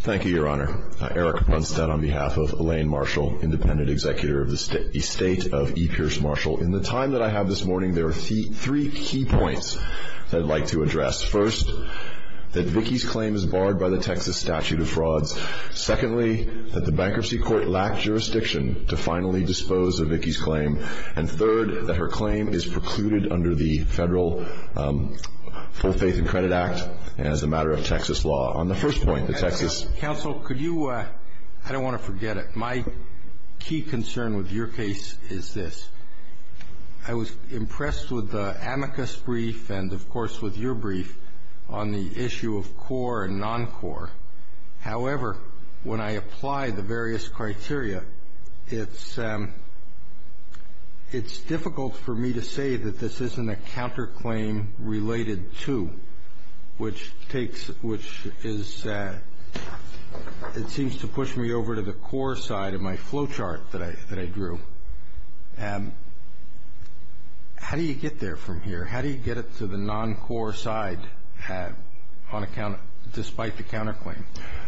Thank you, Your Honor. Eric Brunstad on behalf of Elaine Marshall, Independent Executor of the State of E. Pierce Marshall. In the time that I have this morning, there are three key points that I'd like to address. First, that Vicki's claim is barred by the Texas Statute of Frauds. Secondly, that the Bankruptcy Court lacked jurisdiction to finally dispose of Vicki's claim. And third, that her claim is precluded under the Federal Full Faith and Credit Act as a matter of Texas law. On the first point, the Texas... Counsel, could you... I don't want to forget it. My key concern with your case is this. I was impressed with the amicus brief and, of course, with your brief on the issue of core and non-core. However, when I apply the various criteria, it's difficult for me to say that this isn't a counterclaim related to, which takes... which is... it seems to push me over to the core side of my flow chart that I drew. How do you get there from here? How do you get it to the non-core side on account... despite the counterclaim?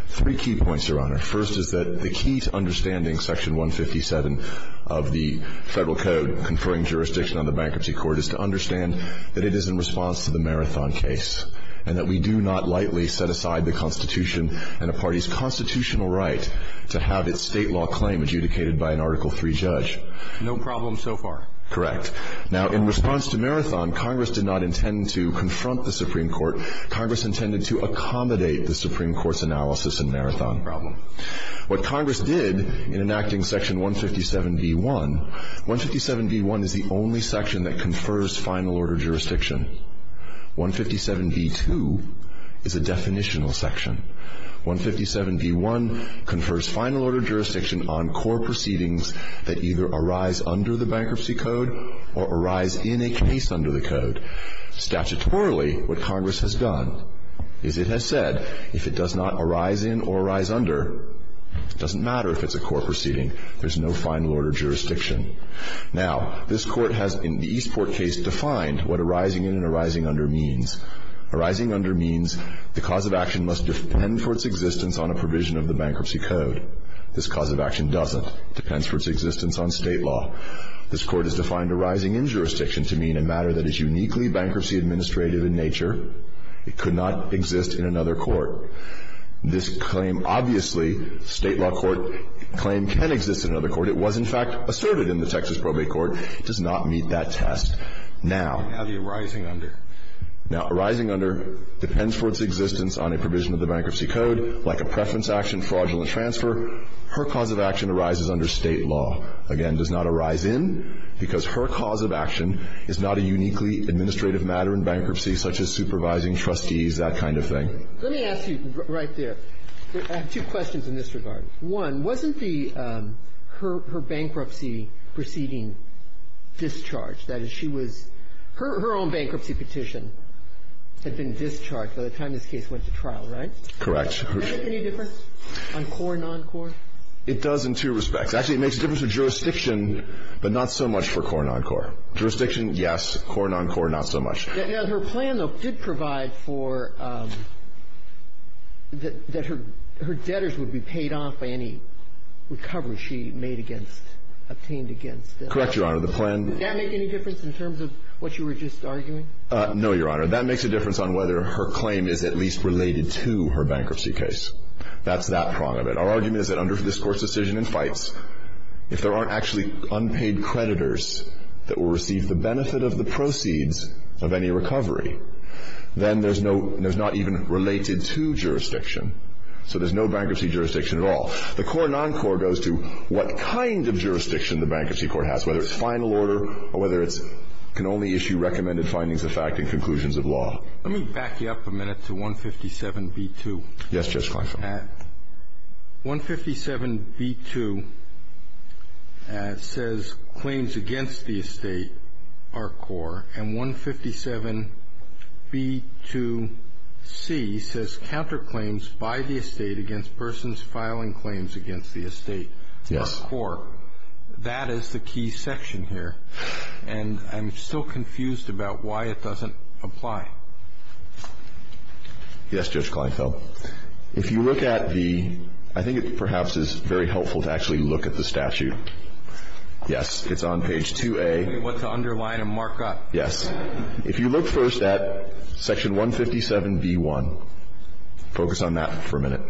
Three key points, Your Honor. First is that the key to understanding Section 157 of the Federal Code conferring jurisdiction on the Bankruptcy Court is to understand that it is in response to the Marathon case and that we do not lightly set aside the Constitution and a party's constitutional right to have its state law claim adjudicated by an Article III judge. No problem so far. Correct. Now, in response to Marathon, Congress did not intend to confront the Supreme Court. No problem. What Congress did in enacting Section 157b-1... 157b-1 is the only section that confers final order jurisdiction. 157b-2 is a definitional section. 157b-1 confers final order jurisdiction on core proceedings that either arise under the Bankruptcy Code or arise in a case under the Code. Statutorily, what Congress has done is it has said, if it does not arise in or arise under, it doesn't matter if it's a core proceeding. There's no final order jurisdiction. Now, this Court has, in the Eastport case, defined what arising in and arising under means. Arising under means the cause of action must depend for its existence on a provision of the Bankruptcy Code. This cause of action doesn't. It depends for its existence on state law. This Court has defined arising in jurisdiction to mean a matter that is uniquely bankruptcy-administrative in nature. It could not exist in another court. This claim, obviously, state law court claim can exist in another court. It was, in fact, asserted in the Texas Probate Court. It does not meet that test. Now... Now the arising under. Now, arising under depends for its existence on a provision of the Bankruptcy Code, like a preference action, fraudulent transfer. Her cause of action arises under state law. Again, does not arise in, because her cause of action is not a uniquely administrative matter in bankruptcy, such as supervising trustees, that kind of thing. Let me ask you right there. I have two questions in this regard. One, wasn't the her bankruptcy proceeding discharged? That is, she was her own bankruptcy petition had been discharged by the time this case went to trial, right? Correct. Does that make any difference on core and non-core? It does in two respects. Actually, it makes a difference for jurisdiction, but not so much for core and non-core. Jurisdiction, yes. Core and non-core, not so much. Her plan, though, did provide for that her debtors would be paid off by any recovery she made against, obtained against. Correct, Your Honor. The plan... Does that make any difference in terms of what you were just arguing? No, Your Honor. That makes a difference on whether her claim is at least related to her bankruptcy case. That's that prong of it. Our argument is that under this Court's decision in Fights, if there aren't actually unpaid creditors that will receive the benefit of the proceeds of any recovery, then there's no, there's not even related to jurisdiction. So there's no bankruptcy jurisdiction at all. The core and non-core goes to what kind of jurisdiction the bankruptcy court has, whether it's final order or whether it's can only issue recommended findings of fact and conclusions of law. Let me back you up a minute to 157b2. Yes, Judge Carson. 157b2 says claims against the estate are core. And 157b2c says counterclaims by the estate against persons filing claims against the estate are core. That is the key section here. And I'm still confused about why it doesn't apply. Yes, Judge Kleinfeld. If you look at the, I think it perhaps is very helpful to actually look at the statute. Yes, it's on page 2A. I forget what to underline and mark up. Yes. If you look first at section 157b1, focus on that for a minute.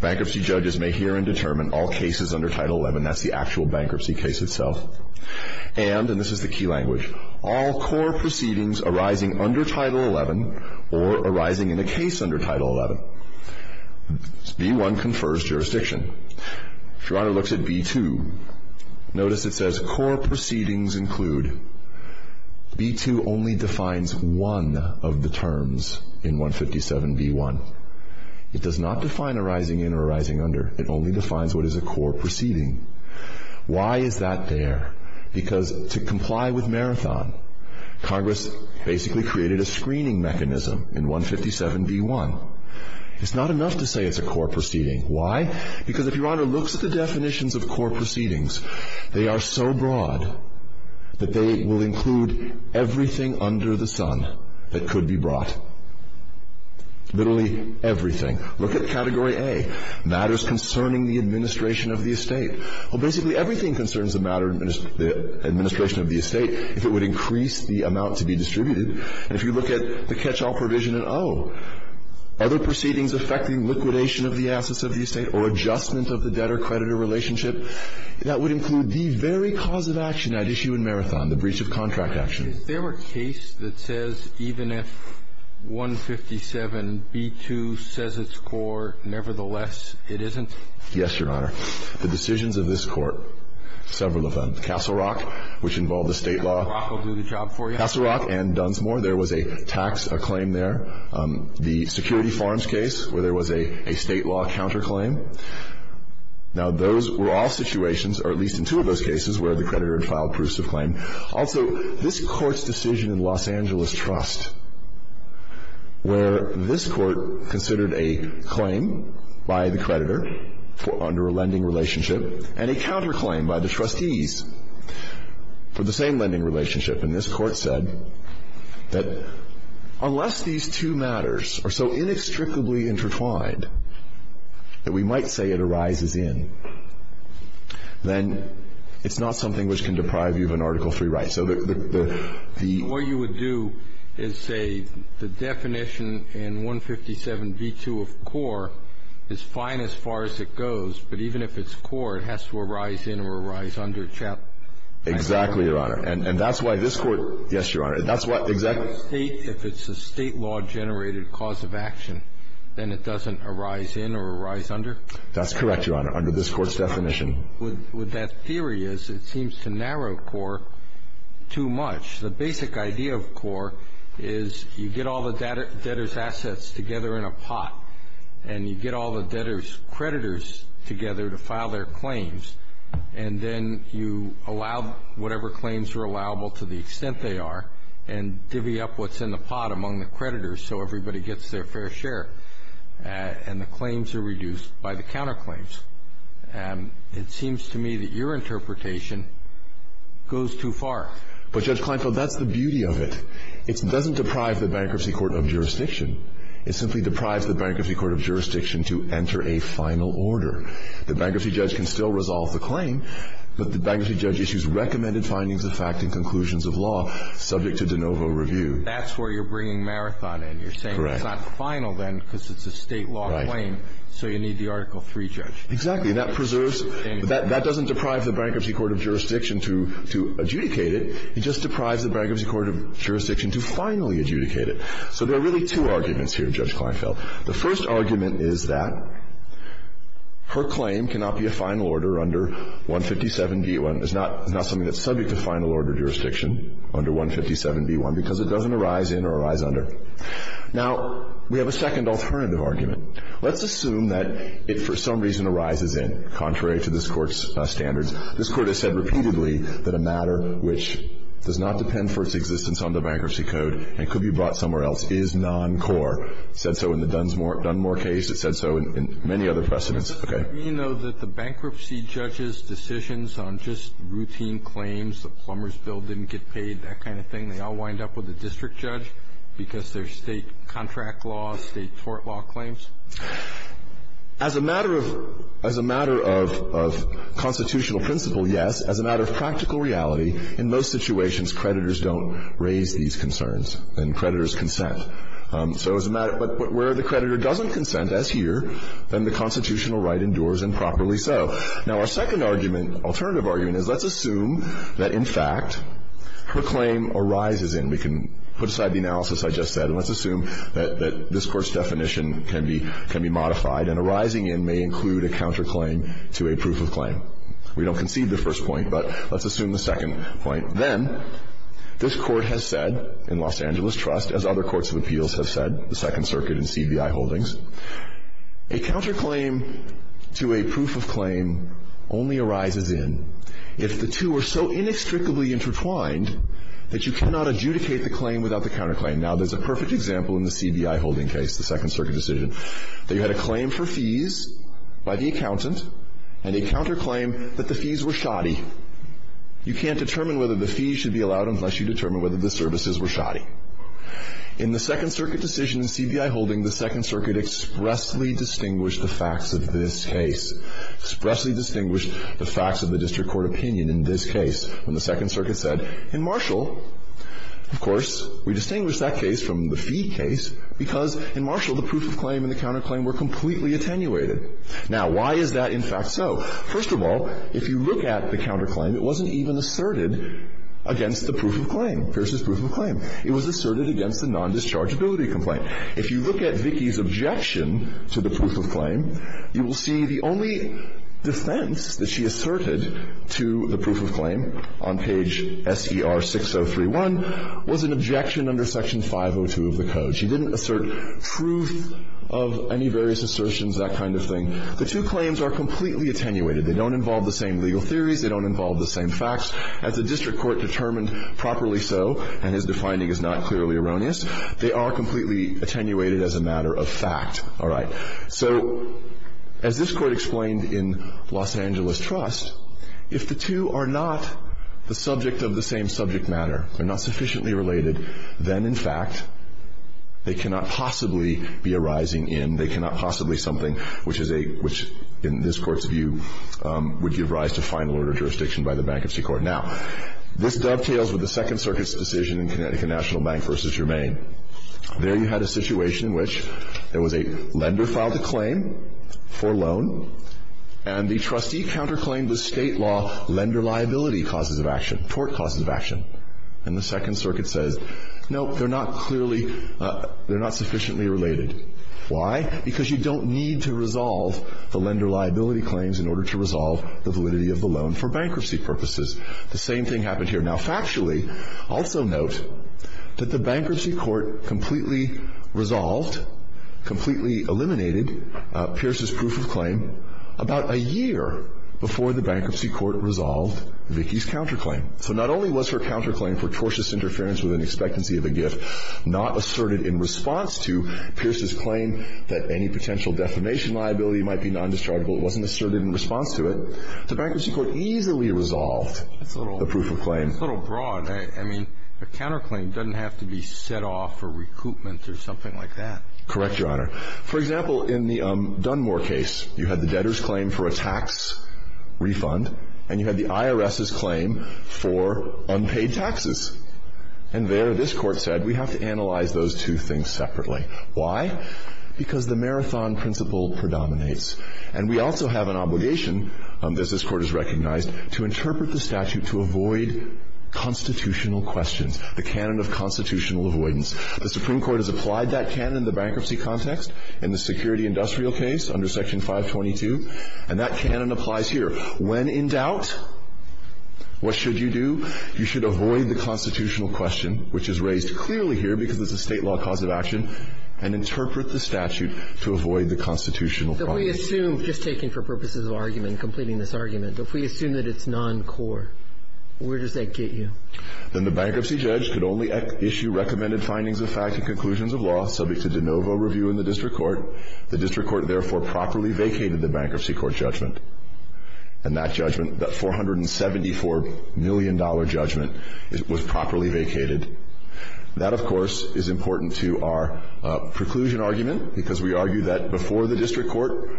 Bankruptcy judges may hear and determine all cases under Title XI. That's the actual bankruptcy case itself. And, and this is the key language, all core proceedings arising under Title XI or arising in a case under Title XI. B1 confers jurisdiction. If Your Honor looks at B2, notice it says core proceedings include. B2 only defines one of the terms in 157b1. It does not define arising in or arising under. It only defines what is a core proceeding. Why is that there? Because to comply with Marathon, Congress basically created a screening mechanism in 157b1. It's not enough to say it's a core proceeding. Why? Because if Your Honor looks at the definitions of core proceedings, they are so broad that they will include everything under the sun that could be brought. Literally everything. Look at Category A, matters concerning the administration of the estate. Well, basically everything concerns the matter, the administration of the estate, if it would increase the amount to be distributed. And if you look at the catch-all provision in O, other proceedings affecting liquidation of the assets of the estate or adjustment of the debtor-creditor relationship, that would include the very cause of action at issue in Marathon, the breach of contract action. Is there a case that says even if 157b2 says it's core, nevertheless, it isn't? Yes, Your Honor. The decisions of this Court, several of them. Castle Rock, which involved the State law. Castle Rock will do the job for you. Castle Rock and Dunsmore, there was a tax claim there. The Security Farms case, where there was a State law counterclaim. Now, those were all situations, or at least in two of those cases, where the creditor had filed proofs of claim. Also, this Court's decision in Los Angeles Trust, where this Court considered a claim by the creditor under a lending relationship and a counterclaim by the trustees for the same lending relationship. And this Court said that unless these two matters are so inextricably intertwined that we might say it arises in, then it's not something which can deprive you of an Article III right. So the ---- What you would do is say the definition in 157b2 of core is fine as far as it goes. But even if it's core, it has to arise in or arise under Chapter ---- Exactly, Your Honor. And that's why this Court ---- Yes, Your Honor. That's why ---- If it's a State law-generated cause of action, then it doesn't arise in or arise under? That's correct, Your Honor, under this Court's definition. What that theory is, it seems to narrow core too much. The basic idea of core is you get all the debtors' assets together in a pot, and you get all the debtors' creditors together to file their claims, and then you allow whatever claims are allowable to the extent they are, and divvy up what's in the pot among the creditors so everybody gets their fair share. And the claims are reduced by the counterclaims. It seems to me that your interpretation goes too far. But, Judge Kleinfeld, that's the beauty of it. It doesn't deprive the Bankruptcy Court of Jurisdiction. It simply deprives the Bankruptcy Court of Jurisdiction to enter a final order. The bankruptcy judge can still resolve the claim, but the bankruptcy judge issues recommended findings of fact and conclusions of law subject to de novo review. That's where you're bringing Marathon in. Correct. You're saying it's not final then because it's a State law claim. Right. So you need the Article III judge. Exactly. And that preserves, that doesn't deprive the Bankruptcy Court of Jurisdiction to adjudicate it. It just deprives the Bankruptcy Court of Jurisdiction to finally adjudicate it. So there are really two arguments here, Judge Kleinfeld. The first argument is that her claim cannot be a final order under 157b1. It's not something that's subject to final order jurisdiction under 157b1 because it doesn't arise in or arise under. Now, we have a second alternative argument. Let's assume that it for some reason arises in, contrary to this Court's standards. This Court has said repeatedly that a matter which does not depend for its existence under Bankruptcy Code and could be brought somewhere else is non-core. It said so in the Dunmore case. It said so in many other precedents. Okay. You know that the bankruptcy judge's decisions on just routine claims, the Plumbers bill didn't get paid, that kind of thing, they all wind up with a district judge because they're State contract laws, State court law claims? As a matter of constitutional principle, yes. As a matter of practical reality, in most situations, creditors don't raise these concerns and creditors consent. So as a matter of where the creditor doesn't consent, as here, then the constitutional right endures improperly so. Now, our second argument, alternative argument, is let's assume that, in fact, her claim arises in. We can put aside the analysis I just said, and let's assume that this Court's definition can be modified and arising in may include a counterclaim to a proof of claim. We don't concede the first point, but let's assume the second point. Then this Court has said in Los Angeles Trust, as other courts of appeals have said, the Second Circuit and CBI holdings, a counterclaim to a proof of claim only arises in if the two are so inextricably intertwined that you cannot adjudicate the claim without the counterclaim. Now, there's a perfect example in the CBI holding case, the Second Circuit decision, that you had a claim for fees by the accountant and a counterclaim that the fees were shoddy. You can't determine whether the fees should be allowed unless you determine whether the services were shoddy. In the Second Circuit decision in CBI holding, the Second Circuit expressly distinguished the facts of this case, expressly distinguished the facts of the district court opinion in this case. When the Second Circuit said, in Marshall, of course, we distinguish that case from the fee case because in Marshall the proof of claim and the counterclaim were completely attenuated. Now, why is that in fact so? First of all, if you look at the counterclaim, it wasn't even asserted against the proof of claim, Pierce's proof of claim. It was asserted against the non-dischargeability complaint. If you look at Vicki's objection to the proof of claim, you will see the only defense that she asserted to the proof of claim on page S.E.R. 6031 was an objection under Section 502 of the Code. She didn't assert truth of any various assertions, that kind of thing. The two claims are completely attenuated. They don't involve the same legal theories. They don't involve the same facts. As the district court determined properly so, and his defining is not clearly erroneous, they are completely attenuated as a matter of fact. All right. So as this Court explained in Los Angeles Trust, if the two are not the subject of the same subject matter, they're not sufficiently related, then in fact they cannot possibly be arising in, they cannot possibly something which is a, which in this Court's view would give rise to final order jurisdiction by the Bankruptcy Court. Now, this dovetails with the Second Circuit's decision in Connecticut National Bank v. Germain. There you had a situation in which there was a lender filed a claim for a loan and the trustee counterclaimed the State law lender liability causes of action, tort causes of action. And the Second Circuit says, no, they're not clearly, they're not sufficiently related. Why? Because you don't need to resolve the lender liability claims in order to resolve the validity of the loan for bankruptcy purposes. The same thing happened here. Now, factually, also note that the Bankruptcy Court completely resolved, completely eliminated Pierce's proof of claim about a year before the Bankruptcy Court resolved Vicki's counterclaim. So not only was her counterclaim for tortious interference with an expectancy of a gift not asserted in response to Pierce's claim that any potential defamation liability might be non-dischargeable, it wasn't asserted in response to it, the Bankruptcy Court easily resolved the proof of claim. It's a little broad. I mean, a counterclaim doesn't have to be set off for recoupment or something like that. Correct, Your Honor. For example, in the Dunmore case, you had the debtor's claim for a tax refund and you had the IRS's claim for unpaid taxes. And there, this Court said, we have to analyze those two things separately. Why? Because the marathon principle predominates. And we also have an obligation, as this Court has recognized, to interpret the statute to avoid constitutional questions, the canon of constitutional avoidance. The Supreme Court has applied that canon in the bankruptcy context, in the security industrial case under Section 522. And that canon applies here. When in doubt, what should you do? You should avoid the constitutional question, which is raised clearly here because it's a State law cause of action, and interpret the statute to avoid the constitutional problem. But if we assume, just taking for purposes of argument, completing this argument, if we assume that it's noncore, where does that get you? Then the bankruptcy judge could only issue recommended findings of fact and conclusions of law subject to de novo review in the district court. The district court, therefore, properly vacated the bankruptcy court judgment. And that judgment, that $474 million judgment, was properly vacated. That, of course, is important to our preclusion argument because we argue that before the district court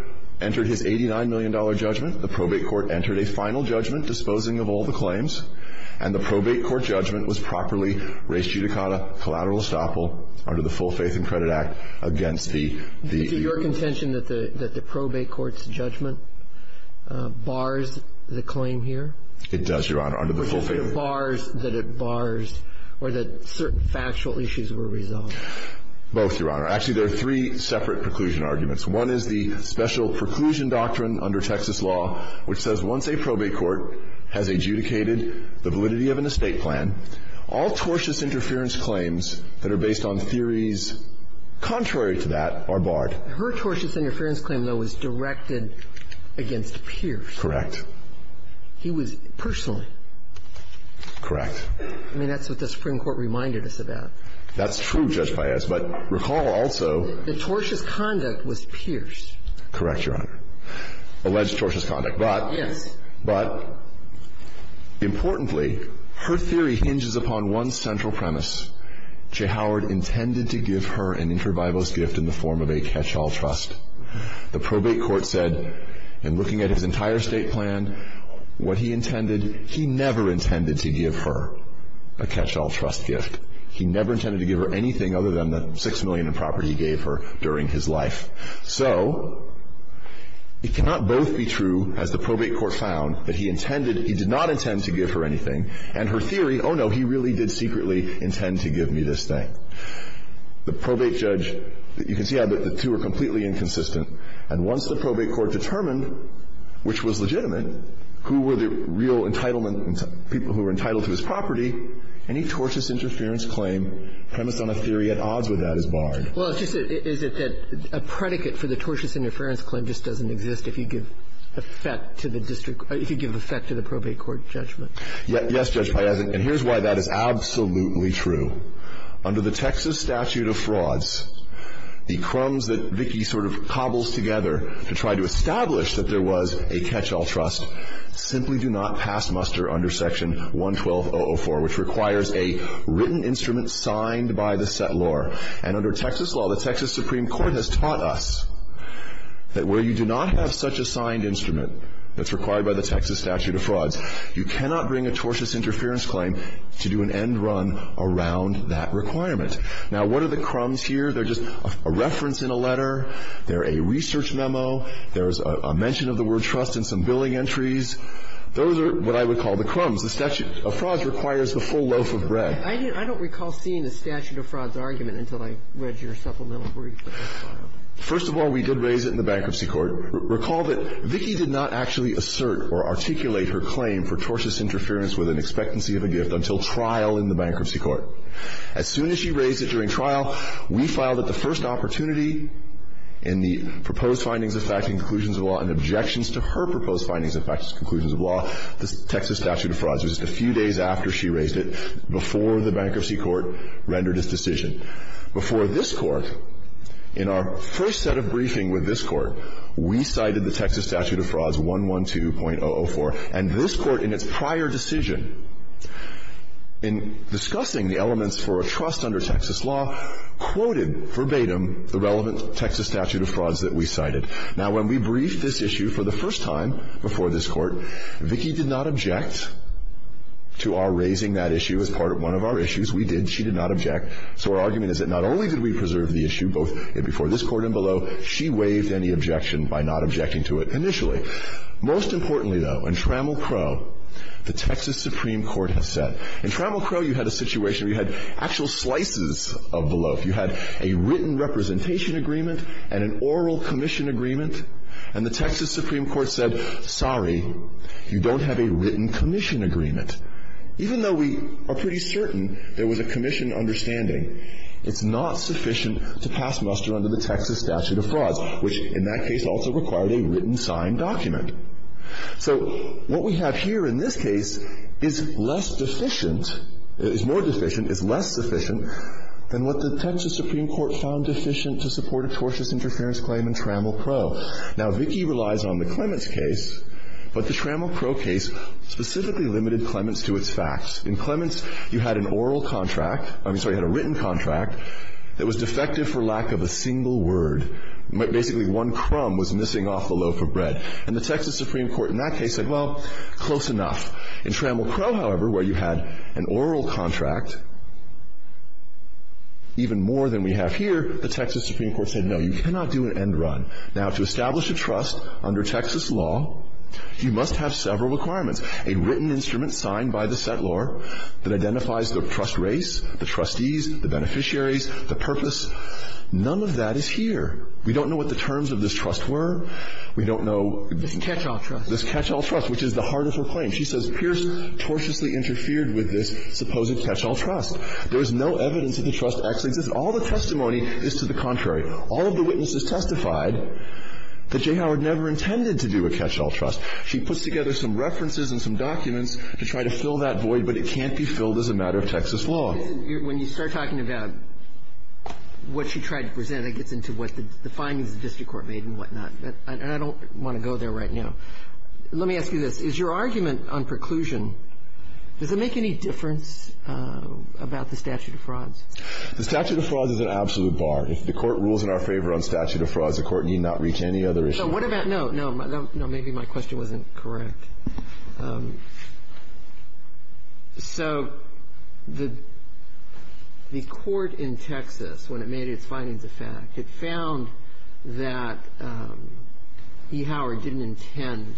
entered his $89 million judgment, the probate court entered a final judgment disposing of all the claims. And the probate court judgment was properly raised judicata collateral estoppel under the Full Faith and Credit Act against the the the Is it your contention that the probate court's judgment bars the claim here? It does, Your Honor. Under the Full Faith and Credit Act. Or that certain factual issues were resolved? Both, Your Honor. Actually, there are three separate preclusion arguments. One is the special preclusion doctrine under Texas law, which says once a probate court has adjudicated the validity of an estate plan, all tortious interference claims that are based on theories contrary to that are barred. Her tortious interference claim, though, was directed against Pierce. Correct. He was personally. Correct. I mean, that's what the Supreme Court reminded us about. That's true, Judge Paez. But recall also. The tortious conduct was Pierce. Correct, Your Honor. Alleged tortious conduct. But. Yes. But importantly, her theory hinges upon one central premise. Jay Howard intended to give her an intervivalist gift in the form of a catch-all trust. The probate court said, in looking at his entire estate plan, what he intended he never intended to give her, a catch-all trust gift. He never intended to give her anything other than the 6 million in property he gave her during his life. So it cannot both be true, as the probate court found, that he intended, he did not intend to give her anything, and her theory, oh, no, he really did secretly intend to give me this thing. The probate judge, you can see how the two are completely inconsistent. And once the probate court determined which was legitimate, who were the real entitlement people who were entitled to his property, any tortious interference claim premised on a theory at odds with that is barred. Well, it's just that a predicate for the tortious interference claim just doesn't exist if you give effect to the district, if you give effect to the probate court judgment. Yes, Judge Piazza, and here's why that is absolutely true. Under the Texas statute of frauds, the crumbs that Vicki sort of cobbles together to try to establish that there was a catch-all trust simply do not pass muster under Section 112.004, which requires a written instrument signed by the settlor. And under Texas law, the Texas Supreme Court has taught us that where you do not have such a signed instrument that's required by the Texas statute of frauds, you cannot bring a tortious interference claim to do an end run around that requirement. Now, what are the crumbs here? They're just a reference in a letter. They're a research memo. There's a mention of the word trust in some billing entries. Those are what I would call the crumbs. The statute of frauds requires the full loaf of bread. I don't recall seeing the statute of frauds argument until I read your supplemental brief that was filed. First of all, we did raise it in the Bankruptcy Court. Recall that Vicki did not actually assert or articulate her claim for tortious interference with an expectancy of a gift until trial in the Bankruptcy Court. As soon as she raised it during trial, we filed it the first opportunity in the proposed findings of fact and conclusions of law and objections to her proposed findings of fact and conclusions of law. The Texas statute of frauds was just a few days after she raised it, before the Bankruptcy Court rendered its decision. Before this Court, in our first set of briefing with this Court, we cited the Texas statute of frauds, 112.004. And this Court, in its prior decision, in discussing the elements for a trust under Texas law, quoted verbatim the relevant Texas statute of frauds that we cited. Now, when we briefed this issue for the first time before this Court, Vicki did not object to our raising that issue as part of one of our issues. We did. She did not object. So our argument is that not only did we preserve the issue both before this Court and below, she waived any objection by not objecting to it initially. Most importantly, though, in Trammell Crowe, the Texas Supreme Court has said. In Trammell Crowe, you had a situation where you had actual slices of the loaf. You had a written representation agreement and an oral commission agreement. And the Texas Supreme Court said, sorry, you don't have a written commission agreement. Even though we are pretty certain there was a commission understanding, it's not sufficient to pass muster under the Texas statute of frauds, which, in that case, also required a written signed document. So what we have here in this case is less deficient, is more deficient, is less sufficient than what the Texas Supreme Court found deficient to support a tortious interference claim in Trammell Crowe. Now, Vicki relies on the Clements case, but the Trammell Crowe case specifically limited Clements to its facts. In Clements, you had an oral contract. I'm sorry, you had a written contract that was defective for lack of a single word. Basically, one crumb was missing off the loaf of bread. And the Texas Supreme Court in that case said, well, close enough. In Trammell Crowe, however, where you had an oral contract, even more than we have here, the Texas Supreme Court said, no, you cannot do an end run. Now, to establish a trust under Texas law, you must have several requirements, a written instrument signed by the settlor that identifies the trust race, the trustees, the beneficiaries, the purpose. None of that is here. We don't know what the terms of this trust were. We don't know this catch-all trust. This catch-all trust, which is the heart of her claim. She says Pierce tortiously interfered with this supposed catch-all trust. There is no evidence that the trust actually exists. All the testimony is to the contrary. All of the witnesses testified that J. Howard never intended to do a catch-all trust. She puts together some references and some documents to try to fill that void, but it can't be filled as a matter of Texas law. When you start talking about what she tried to present, it gets into what the findings of the district court made and whatnot. And I don't want to go there right now. Let me ask you this. Is your argument on preclusion, does it make any difference about the statute of frauds? The statute of frauds is an absolute bar. If the Court rules in our favor on statute of frauds, the Court need not reach any other issue. What about no? Maybe my question wasn't correct. So the Court in Texas, when it made its findings of fact, it found that E. Howard didn't intend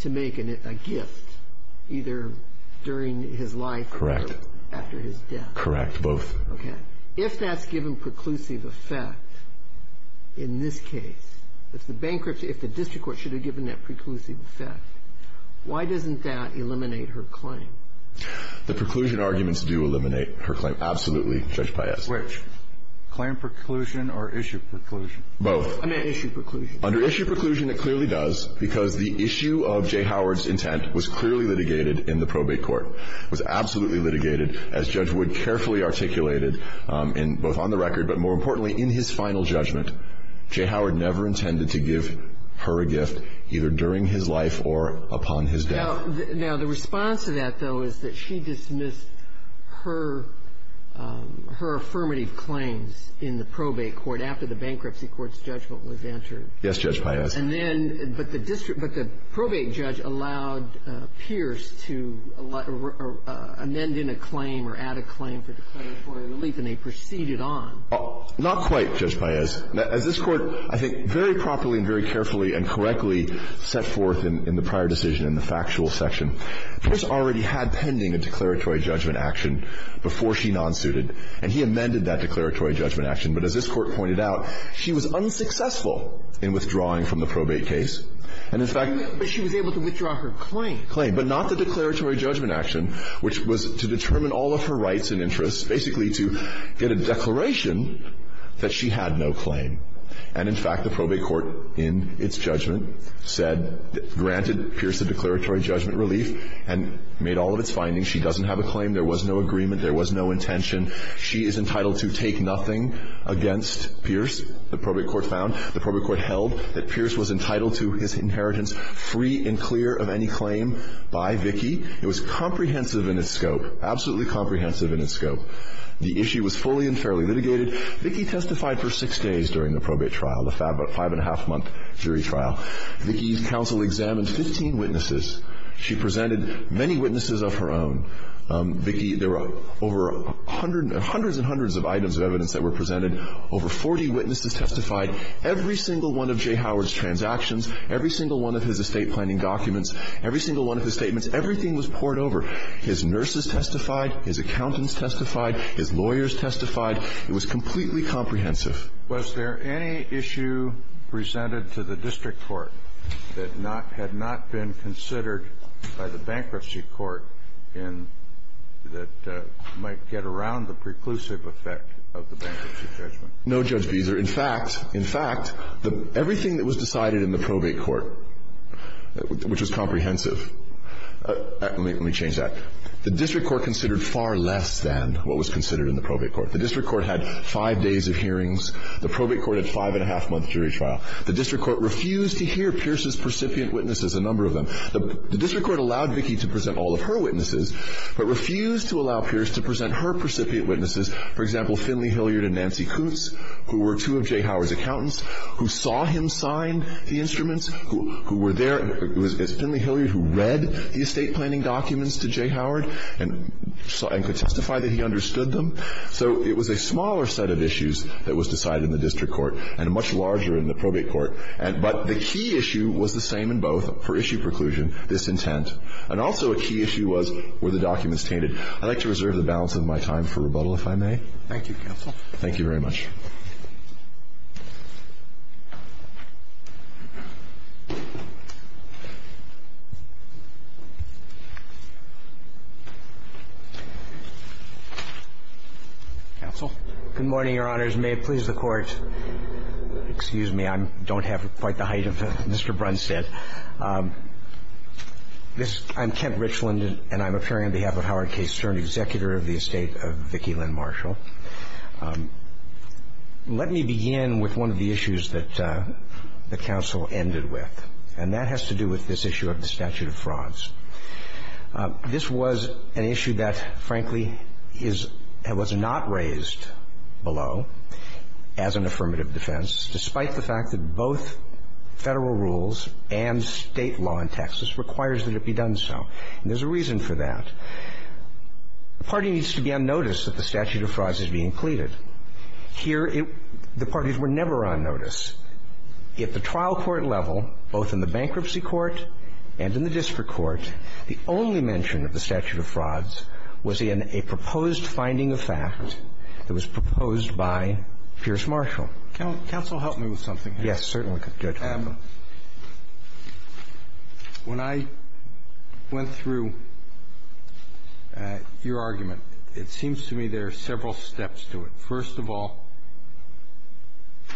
to make a gift either during his life or after his death. Correct. Both. Okay. If that's given preclusive effect in this case, if the district court should have given a preclusive effect, why doesn't that eliminate her claim? The preclusion arguments do eliminate her claim. Absolutely, Judge Paez. Which? Claim preclusion or issue preclusion? Both. I meant issue preclusion. Under issue preclusion, it clearly does, because the issue of J. Howard's intent was clearly litigated in the probate court. It was absolutely litigated, as Judge Wood carefully articulated, both on the record but more importantly in his final judgment. J. Howard never intended to give her a gift either during his life or upon his death. Now, the response to that, though, is that she dismissed her affirmative claims in the probate court after the bankruptcy court's judgment was entered. Yes, Judge Paez. And then the district – but the probate judge allowed Pierce to amend in a claim or add a claim for declaratory relief, and they proceeded on. Not quite, Judge Paez. As this Court, I think, very promptly and very carefully and correctly set forth in the prior decision in the factual section, Pierce already had pending a declaratory judgment action before she non-suited, and he amended that declaratory judgment action, but as this Court pointed out, she was unsuccessful in withdrawing from the probate case, and in fact – But she was able to withdraw her claim. Claim, but not the declaratory judgment action, which was to determine all of her that she had no claim. And in fact, the probate court, in its judgment, said – granted Pierce a declaratory judgment relief and made all of its findings. She doesn't have a claim. There was no agreement. There was no intention. She is entitled to take nothing against Pierce, the probate court found. The probate court held that Pierce was entitled to his inheritance free and clear of any claim by Vicki. It was comprehensive in its scope, absolutely comprehensive in its scope. The issue was fully and fairly litigated. Vicki testified for six days during the probate trial, the five-and-a-half-month jury trial. Vicki's counsel examined 15 witnesses. She presented many witnesses of her own. Vicki – there were over a hundred – hundreds and hundreds of items of evidence that were presented. Over 40 witnesses testified. Every single one of Jay Howard's transactions, every single one of his estate planning documents, every single one of his statements, everything was poured over. His nurses testified. His accountants testified. His lawyers testified. It was completely comprehensive. Was there any issue presented to the district court that not – had not been considered by the bankruptcy court in – that might get around the preclusive effect of the bankruptcy judgment? No, Judge Beezer. In fact, in fact, everything that was decided in the probate court, which was comprehensive – let me change that. The district court considered far less than what was considered in the probate court. The district court had five days of hearings. The probate court had a five-and-a-half-month jury trial. The district court refused to hear Pierce's precipient witnesses, a number of them. The district court allowed Vicki to present all of her witnesses, but refused to allow Pierce to present her precipient witnesses, for example, Finley Hilliard and Nancy Kutz, who were two of Jay Howard's accountants, who saw him sign the instruments, who were there. It was Finley Hilliard who read the estate planning documents to Jay Howard and could testify that he understood them. So it was a smaller set of issues that was decided in the district court and a much larger in the probate court. But the key issue was the same in both for issue preclusion, disintent. And also a key issue was were the documents tainted. I'd like to reserve the balance of my time for rebuttal, if I may. Thank you, counsel. Thank you very much. Counsel? Good morning, Your Honors. May it please the Court. Excuse me. I don't have quite the height of Mr. Brunstad. I'm Kent Richland, and I'm appearing on behalf of Howard K. Stern, I'm here to testify on behalf of Mr. Brunstad. Let me begin with one of the issues that the counsel ended with, and that has to do with this issue of the statute of frauds. This was an issue that, frankly, was not raised below as an affirmative defense, despite the fact that both federal rules and state law in Texas requires that it be done so. And there's a reason for that. The party needs to be unnoticed that the statute of frauds is being pleaded. Here, the parties were never on notice. At the trial court level, both in the bankruptcy court and in the district court, the only mention of the statute of frauds was in a proposed finding of fact that was proposed by Pierce-Marshall. Counsel, help me with something here. Yes, certainly. Good. When I went through your argument, it seems to me there are several steps to it. First of all,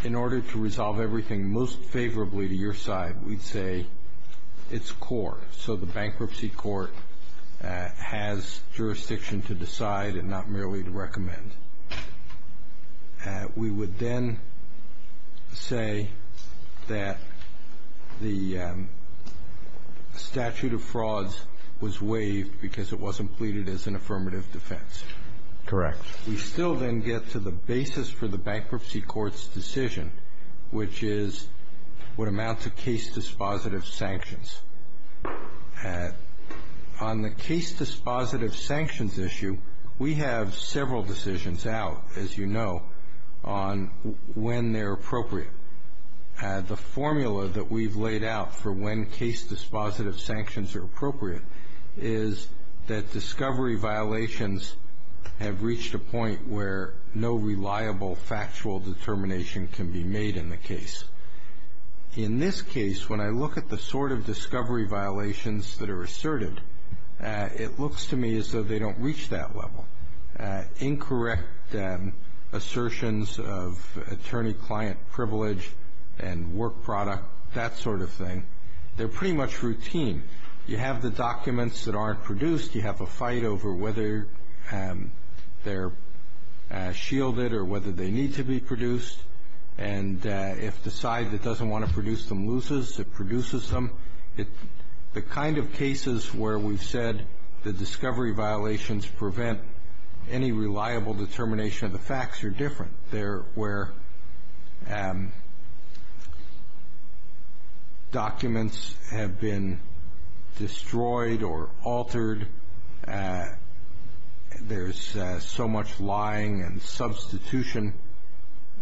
in order to resolve everything most favorably to your side, we'd say it's core. So the bankruptcy court has jurisdiction to decide and not merely to recommend. We would then say that the statute of frauds was waived because it wasn't pleaded as an affirmative defense. Correct. We still then get to the basis for the bankruptcy court's decision, which is what amounts to case dispositive sanctions. On the case dispositive sanctions issue, we have several decisions out, as you know, on when they're appropriate. The formula that we've laid out for when case dispositive sanctions are appropriate is that discovery violations have reached a point where no reliable factual determination can be made in the case. In this case, when I look at the sort of discovery violations that are asserted, it looks to me as though they don't reach that level. Incorrect assertions of attorney-client privilege and work product, that sort of thing, they're pretty much routine. You have the documents that aren't produced. You have a fight over whether they're shielded or whether they need to be produced. And if the side that doesn't want to produce them loses, it produces them. The kind of cases where we've said the discovery violations prevent any reliable determination of the facts are different. There were documents have been destroyed or altered. There's so much lying and substitution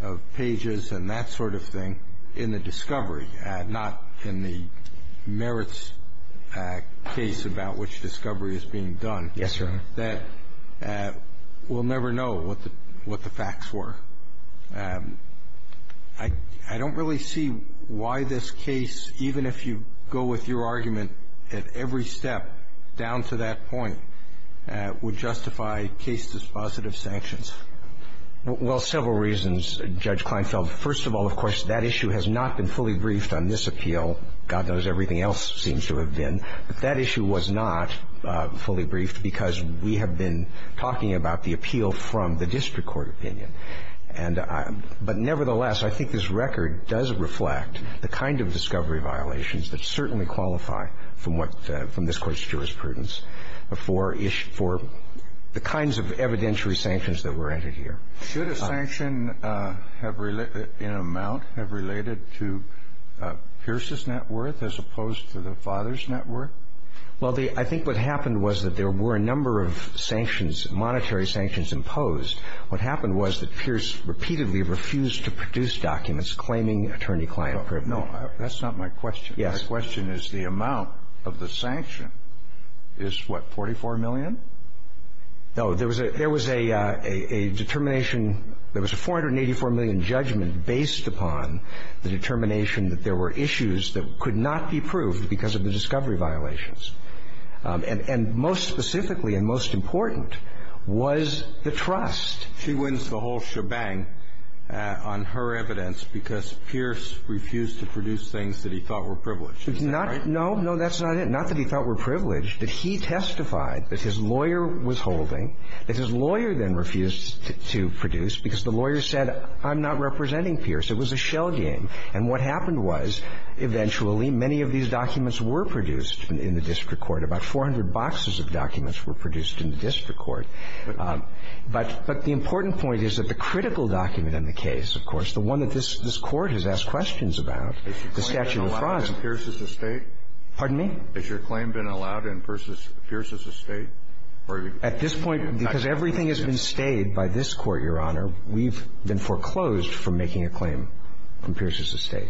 of pages and that sort of thing in the discovery, not in the merits case about which discovery is being done. Yes, sir. I have a question. I have a question about the fact that we'll never know what the facts were. I don't really see why this case, even if you go with your argument at every step down to that point, would justify case dispositive sanctions. Well, several reasons, Judge Kleinfeld. First of all, of course, that issue has not been fully briefed on this appeal. God knows everything else seems to have been. But that issue was not fully briefed because we have been talking about the appeal from the district court opinion. But nevertheless, I think this record does reflect the kind of discovery violations that certainly qualify from this Court's jurisprudence for the kinds of evidentiary sanctions that were entered here. Should a sanction in amount have related to Pierce's net worth as opposed to the father's net worth? Well, I think what happened was that there were a number of sanctions, monetary sanctions imposed. What happened was that Pierce repeatedly refused to produce documents claiming attorney-client privilege. No, that's not my question. Yes. My question is the amount of the sanction is, what, $44 million? No. There was a determination. There was a $484 million judgment based upon the determination that there were issues that could not be proved because of the discovery violations. And most specifically and most important was the trust. She wins the whole shebang on her evidence because Pierce refused to produce things that he thought were privileged. Is that right? No. No, that's not it. And not that he thought were privileged. That he testified that his lawyer was holding, that his lawyer then refused to produce because the lawyer said, I'm not representing Pierce. It was a shell game. And what happened was, eventually, many of these documents were produced in the district court. About 400 boxes of documents were produced in the district court. But the important point is that the critical document in the case, of course, the one that this Court has asked questions about, the Statute of Fraud. Has your claim been allowed in Pierce's estate? Pardon me? Has your claim been allowed in Pierce's estate? At this point, because everything has been stayed by this Court, Your Honor, we've been foreclosed from making a claim in Pierce's estate.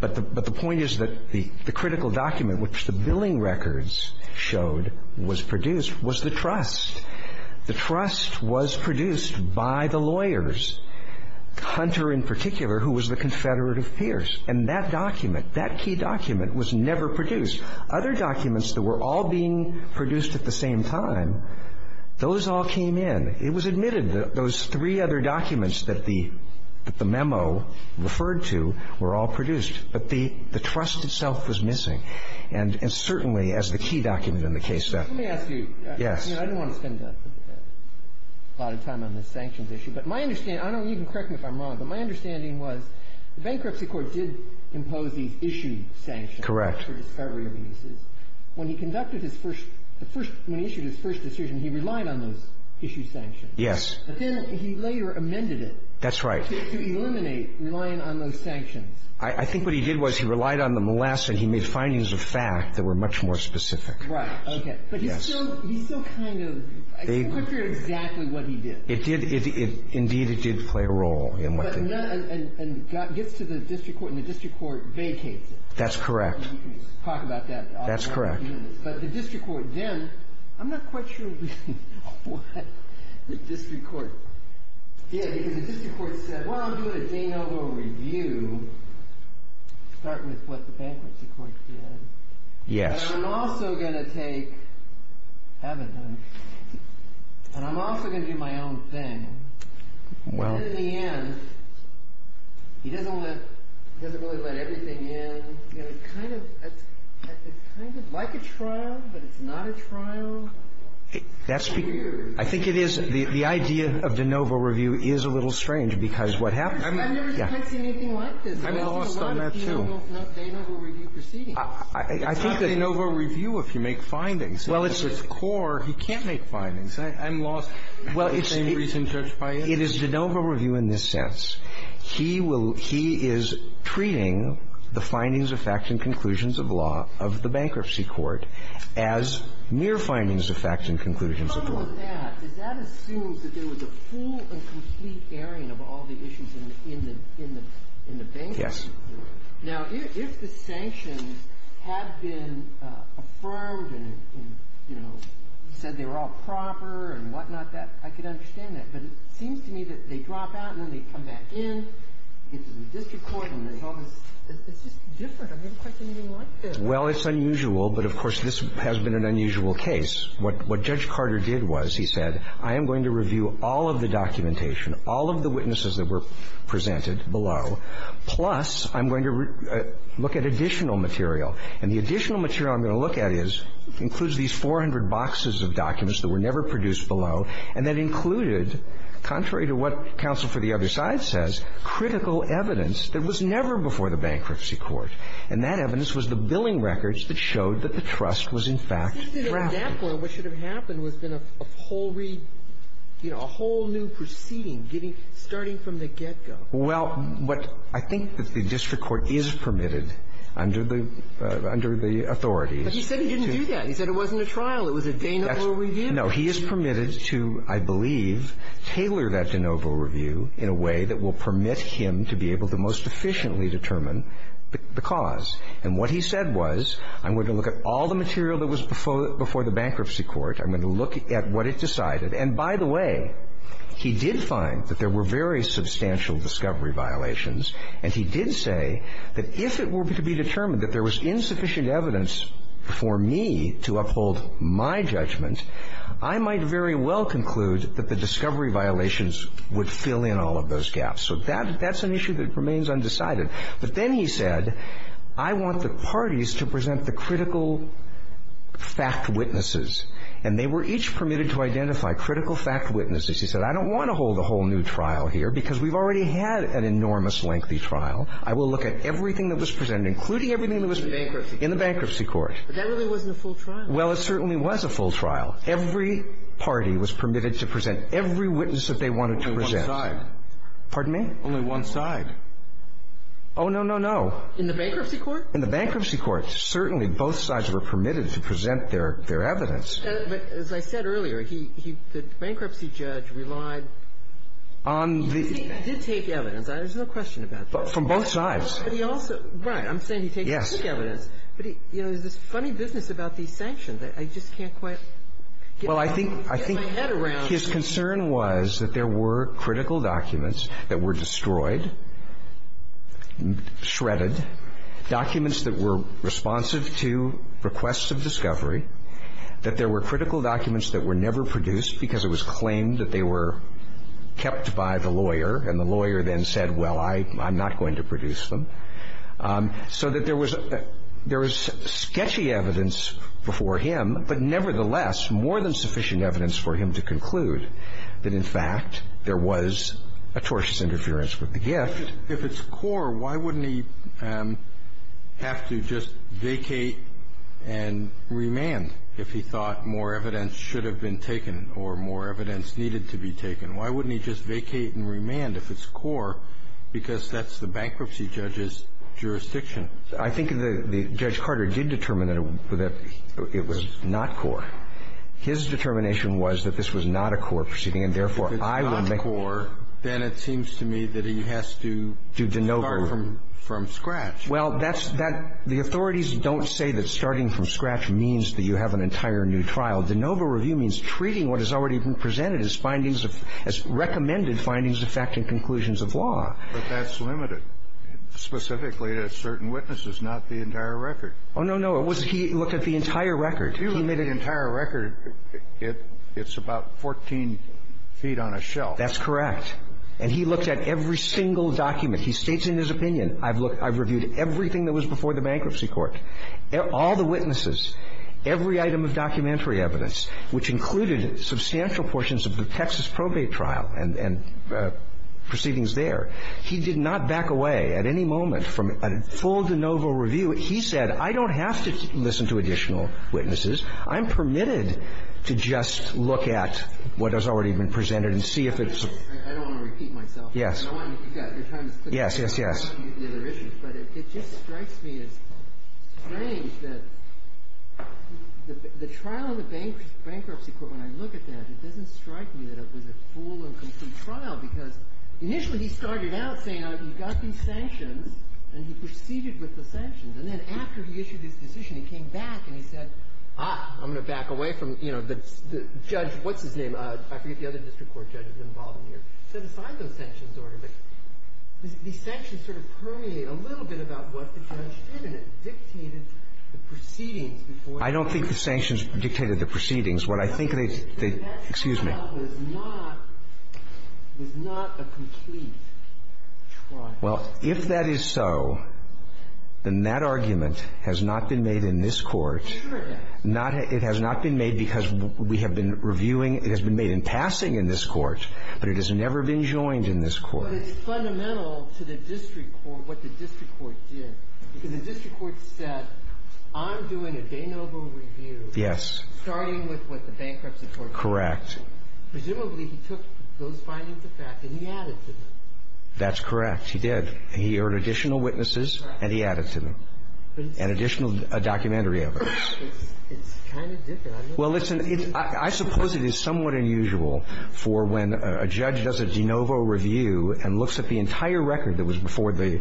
But the point is that the critical document, which the billing records showed, was produced, was the trust. The trust was produced by the lawyers, Hunter in particular, who was the confederate of Pierce. And that document, that key document, was never produced. Other documents that were all being produced at the same time, those all came in. It was admitted that those three other documents that the memo referred to were all produced. But the trust itself was missing. And certainly, as the key document in the case, that ---- Let me ask you. Yes. I didn't want to spend a lot of time on this sanctions issue. But my understanding, I don't even, correct me if I'm wrong, but my understanding was the Bankruptcy Court did impose these issue sanctions. Correct. For discovery of uses. When he conducted his first, when he issued his first decision, he relied on those issue sanctions. Yes. But then he later amended it. That's right. To eliminate relying on those sanctions. I think what he did was he relied on them less, and he made findings of fact that were much more specific. Right. Okay. But he's still kind of, I'm not sure exactly what he did. It did, indeed, it did play a role in what he did. And gets to the district court, and the district court vacates it. That's correct. We can talk about that. That's correct. But the district court then, I'm not quite sure what the district court did. Because the district court said, well, I'm doing a de novo review. Start with what the Bankruptcy Court did. Yes. And I'm also going to take evidence. And I'm also going to do my own thing. Well. But in the end, he doesn't let, he doesn't really let everything in. You know, it's kind of, it's kind of like a trial, but it's not a trial. That's weird. I think it is, the idea of de novo review is a little strange, because what happens. I've never seen anything like this. I'm lost on that, too. I've seen a lot of de novo review proceedings. It's not de novo review if you make findings. Well, it's. At its core, you can't make findings. I'm lost. Well, it's. Same reason Judge Pius. It is de novo review in this sense. He will, he is treating the findings of facts and conclusions of law of the Bankruptcy Court as mere findings of facts and conclusions of law. And along with that, does that assume that there was a full and complete airing of all the issues in the, in the, in the Bankruptcy Court? Yes. Now, if the sanctions had been affirmed and, you know, said they were all proper and whatnot, that, I could understand that. But it seems to me that they drop out and then they come back in, get to the district court, and there's all this. It's just different. I've never seen anything like this. Well, it's unusual. But, of course, this has been an unusual case. What Judge Carter did was, he said, I am going to review all of the documentation, all of the witnesses that were presented below, plus I'm going to look at additional material. And the additional material I'm going to look at is, includes these 400 boxes of documents that were never produced below, and that included, contrary to what counsel for the other side says, critical evidence that was never before the Bankruptcy Court. And that evidence was the billing records that showed that the trust was, in fact, drafted. But at that point, what should have happened would have been a whole read, you know, a whole new proceeding getting, starting from the get-go. Well, what I think that the district court is permitted under the, under the authorities But he said he didn't do that. He said it wasn't a trial. It was a de novo review. No. He is permitted to, I believe, tailor that de novo review in a way that will permit him to be able to most efficiently determine the cause. And what he said was, I'm going to look at all the material that was before the Bankruptcy Court. I'm going to look at what it decided. And, by the way, he did find that there were very substantial discovery violations, and he did say that if it were to be determined that there was insufficient evidence for me to uphold my judgment, I might very well conclude that the discovery violations would fill in all of those gaps. So that, that's an issue that remains undecided. But then he said, I want the parties to present the critical fact witnesses. And they were each permitted to identify critical fact witnesses. He said, I don't want to hold a whole new trial here because we've already had an enormous lengthy trial. I will look at everything that was presented, including everything that was in the Bankruptcy Court. But that really wasn't a full trial. Well, it certainly was a full trial. Every party was permitted to present every witness that they wanted to present. Only one side. Pardon me? Only one side. Oh, no, no, no. In the Bankruptcy Court? In the Bankruptcy Court. Certainly, both sides were permitted to present their evidence. But, as I said earlier, he, the bankruptcy judge relied on the ---- But he also, right, I'm saying he takes the evidence. Yes. But he, you know, there's this funny business about these sanctions that I just can't quite get my head around. Well, I think, I think his concern was that there were critical documents that were destroyed, shredded, documents that were responsive to requests of discovery, kept by the lawyer, and the lawyer then said, well, I'm not going to produce them. So that there was, there was sketchy evidence before him, but nevertheless, more than sufficient evidence for him to conclude that, in fact, there was atrocious interference with the gift. If it's core, why wouldn't he have to just vacate and remand if he thought more evidence needed to be taken? Why wouldn't he just vacate and remand if it's core, because that's the bankruptcy judge's jurisdiction? I think the Judge Carter did determine that it was not core. His determination was that this was not a core proceeding, and therefore, I will make it. If it's not core, then it seems to me that he has to start from scratch. Well, that's, that, the authorities don't say that starting from scratch means that you have an entire new trial. De novo review means treating what has already been presented as findings of, as recommended findings affecting conclusions of law. But that's limited specifically to certain witnesses, not the entire record. Oh, no, no. It was, he looked at the entire record. If you look at the entire record, it, it's about 14 feet on a shelf. That's correct. And he looked at every single document. He states in his opinion, I've looked, I've reviewed everything that was before the bankruptcy court. All the witnesses, every item of documentary evidence, which included substantial portions of the Texas probate trial and, and proceedings there. He did not back away at any moment from a full de novo review. He said, I don't have to listen to additional witnesses. I'm permitted to just look at what has already been presented and see if it's. I don't want to repeat myself. Yes. I want to, you've got your time is up. Yes, yes, yes. But it, it just strikes me as strange that the, the trial on the bank, bankruptcy court, when I look at that, it doesn't strike me that it was a full and complete trial because initially he started out saying, oh, you've got these sanctions and he proceeded with the sanctions. And then after he issued his decision, he came back and he said, ah, I'm going to back away from, you know, the judge, what's his name? I forget the other district court judges involved in here. I don't think the sanctions dictated the proceedings. What I think they, they, excuse me. Well, if that is so, then that argument has not been made in this court. Not, it has not been made because we have been reviewing, it has been made in passing in this court, but it has never been joined in this court. But it's fundamental to the district court, what the district court did. Because the district court said, I'm doing a de novo review. Yes. Starting with what the bankruptcy court said. Correct. Presumably he took those findings of fact and he added to them. That's correct. He did. He heard additional witnesses and he added to them. And additional documentary evidence. It's kind of different. Well, it's an, I suppose it is somewhat unusual for when a judge does a de novo review and looks at the entire record that was before the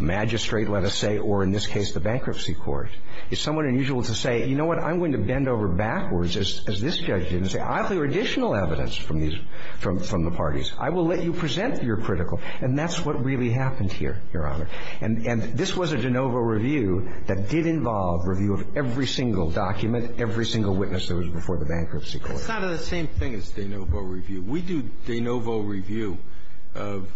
magistrate, let us say, or in this case the bankruptcy court. It's somewhat unusual to say, you know what, I'm going to bend over backwards as this judge did and say, I have additional evidence from these, from the parties. I will let you present your critical. And that's what really happened here, Your Honor. And this was a de novo review that did involve review of every single document, every single witness that was before the bankruptcy court. It's not the same thing as de novo review. We do de novo review of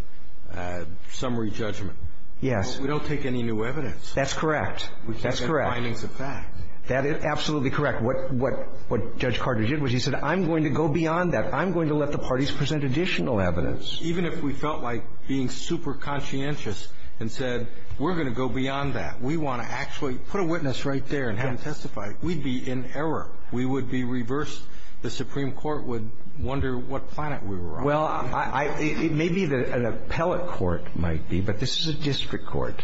summary judgment. Yes. We don't take any new evidence. That's correct. That's correct. We take the findings of fact. That is absolutely correct. What Judge Carter did was he said, I'm going to go beyond that. I'm going to let the parties present additional evidence. Even if we felt like being super conscientious and said, we're going to go beyond that. We want to actually put a witness right there and have him testify. We'd be in error. We would be reversed. The Supreme Court would wonder what planet we were on. Well, it may be that an appellate court might be, but this is a district court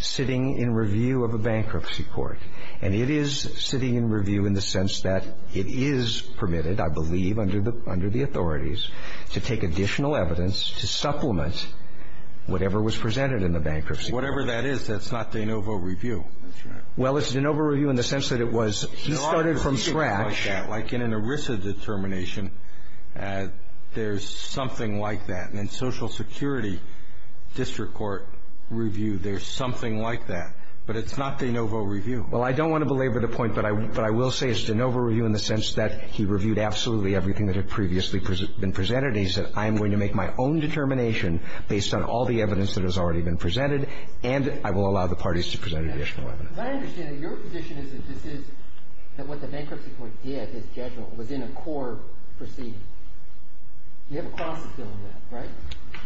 sitting in review of a bankruptcy court. And it is sitting in review in the sense that it is permitted, I believe, under the authorities to take additional evidence to supplement whatever was presented in the bankruptcy court. Whatever that is, that's not de novo review. That's right. Well, it's de novo review in the sense that it was he started from scratch. Like in an ERISA determination, there's something like that. And in Social Security district court review, there's something like that. But it's not de novo review. Well, I don't want to belabor the point, but I will say it's de novo review in the sense that he reviewed absolutely everything that had previously been presented. He said, I am going to make my own determination based on all the evidence that has already been presented, and I will allow the parties to present additional evidence. But I understand that your position is that this is, that what the bankruptcy court did, its judgment, was in a core proceeding. You have a cross-examination on that, right?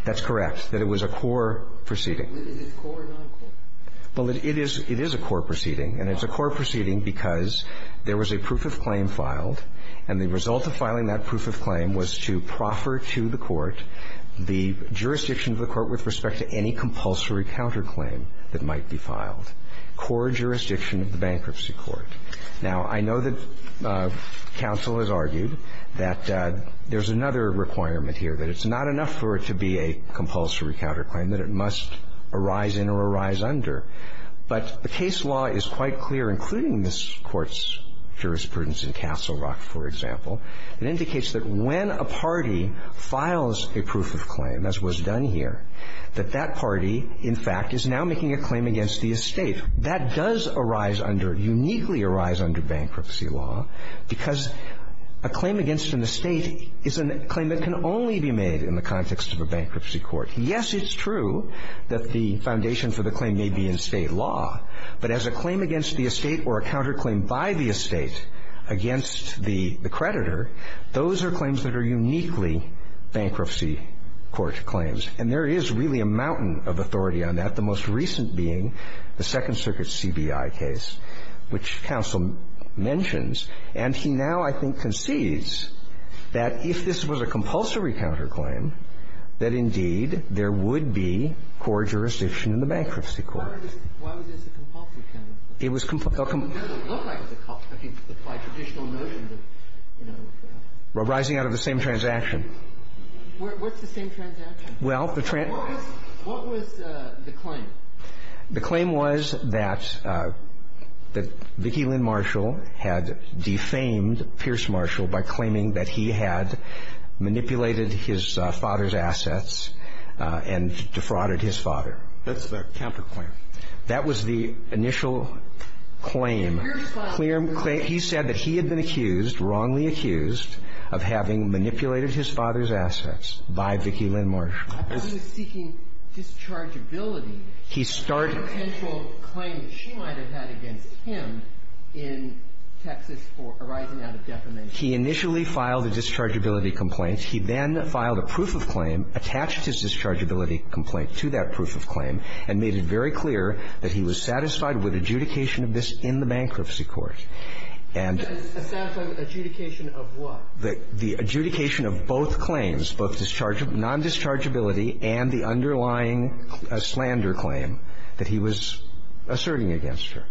That's correct, that it was a core proceeding. Is this core or non-core? Well, it is a core proceeding, and it's a core proceeding because there was a proof of claim filed, and the result of filing that proof of claim was to proffer to the court the jurisdiction of the court with respect to any compulsory counterclaim that might be filed, core jurisdiction of the bankruptcy court. Now, I know that counsel has argued that there's another requirement here, that it's not enough for it to be a compulsory counterclaim, that it must arise in or arise under, but the case law is quite clear, including this Court's jurisprudence in Castle Rock, for example. It indicates that when a party files a proof of claim, as was done here, that that party is making a claim against the estate. That does arise under, uniquely arise under bankruptcy law because a claim against an estate is a claim that can only be made in the context of a bankruptcy court. Yes, it's true that the foundation for the claim may be in state law, but as a claim against the estate or a counterclaim by the estate against the creditor, those are claims that are uniquely bankruptcy court claims, and there is really a mountain of authority on that, the most recent being the Second Circuit's CBI case, which counsel mentions. And he now, I think, concedes that if this was a compulsory counterclaim, that indeed there would be core jurisdiction in the bankruptcy court. Why was this a compulsory counterclaim? It was compulsory. It doesn't look like it's a compulsory. I mean, by traditional notions of, you know. Arising out of the same transaction. What's the same transaction? Well, the transaction. What was the claim? The claim was that Vicki Lynn Marshall had defamed Pierce Marshall by claiming that he had manipulated his father's assets and defrauded his father. That's the counterclaim. That was the initial claim. He said that he had been accused, wrongly accused, of having manipulated his father's assets by Vicki Lynn Marshall. I thought he was seeking dischargeability. He started. A potential claim that she might have had against him in Texas for arising out of defamation. He initially filed a dischargeability complaint. He then filed a proof of claim, attached his dischargeability complaint to that proof of claim, and made it very clear that he was satisfied with adjudication of this in the bankruptcy court. And. Adjudication of what? The adjudication of both claims, both non-dischargeability and the underlying slander claim that he was asserting against her.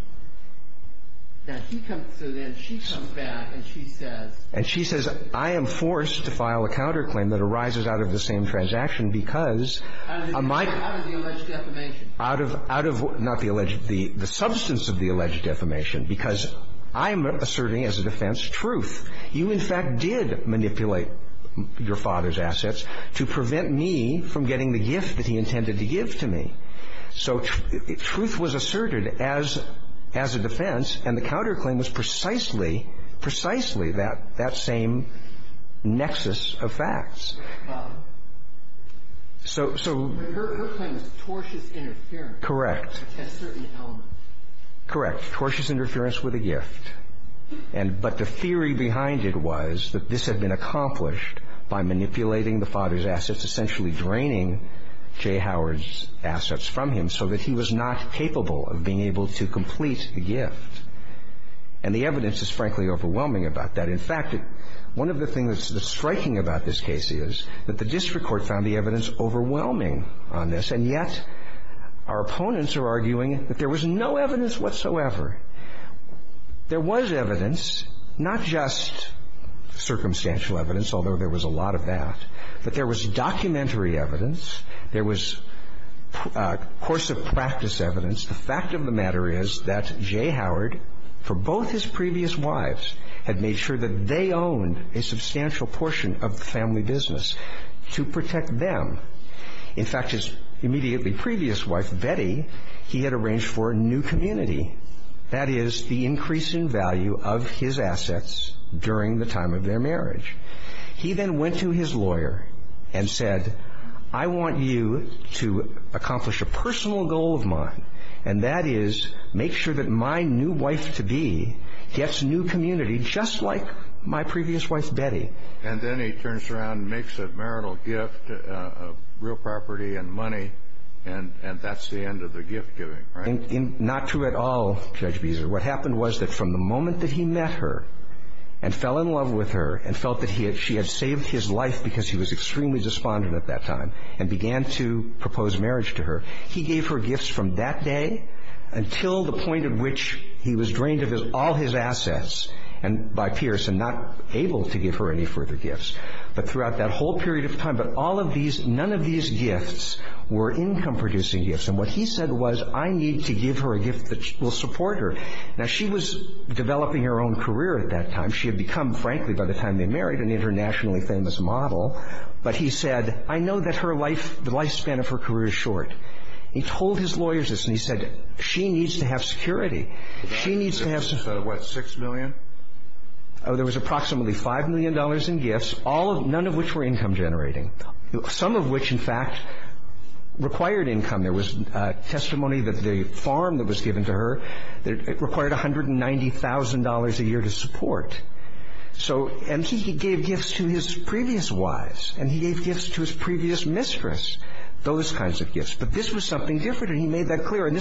So then she comes back and she says. And she says, I am forced to file a counterclaim that arises out of the same transaction because. Out of the alleged defamation. Out of, not the alleged, the substance of the alleged defamation. Because I'm asserting as a defense truth. You, in fact, did manipulate your father's assets to prevent me from getting the gift that he intended to give to me. So truth was asserted as a defense, and the counterclaim was precisely, precisely that same nexus of facts. So. Her claim was tortious interference. Correct. At certain elements. Correct. Tortious interference with a gift. And but the theory behind it was that this had been accomplished by manipulating the father's assets, essentially draining J. Howard's assets from him so that he was not capable of being able to complete the gift. And the evidence is frankly overwhelming about that. In fact, one of the things that's striking about this case is that the district court found the evidence overwhelming on this. And yet our opponents are arguing that there was no evidence whatsoever. There was evidence, not just circumstantial evidence, although there was a lot of that, but there was documentary evidence. There was course of practice evidence. The fact of the matter is that J. Howard, for both his previous wives, had made sure that they owned a substantial portion of the family business to protect them. In fact, his immediately previous wife, Betty, he had arranged for a new community that is the increase in value of his assets during the time of their marriage. He then went to his lawyer and said, I want you to accomplish a personal goal of mine, and that is make sure that my new wife-to-be gets a new community just like my previous wife, Betty. And then he turns around and makes a marital gift of real property and money. And that's the end of the gift giving, right? And not true at all, Judge Beezer. What happened was that from the moment that he met her and fell in love with her and felt that she had saved his life because he was extremely despondent at that time and began to propose marriage to her, he gave her gifts from that day until the point at which he was drained of all his assets by Pierce and not able to give her any further gifts, but throughout that whole period of time. But all of these, none of these gifts were income-producing gifts. And what he said was, I need to give her a gift that will support her. Now, she was developing her own career at that time. She had become, frankly, by the time they married, an internationally famous model. But he said, I know that her life, the lifespan of her career is short. He told his lawyers this, and he said, she needs to have security. She needs to have security. What, $6 million? Oh, there was approximately $5 million in gifts, none of which were income generating, some of which, in fact, required income. There was testimony that the farm that was given to her required $190,000 a year to support. And he gave gifts to his previous wives, and he gave gifts to his previous mistress, those kinds of gifts. But this was something different, and he made that clear.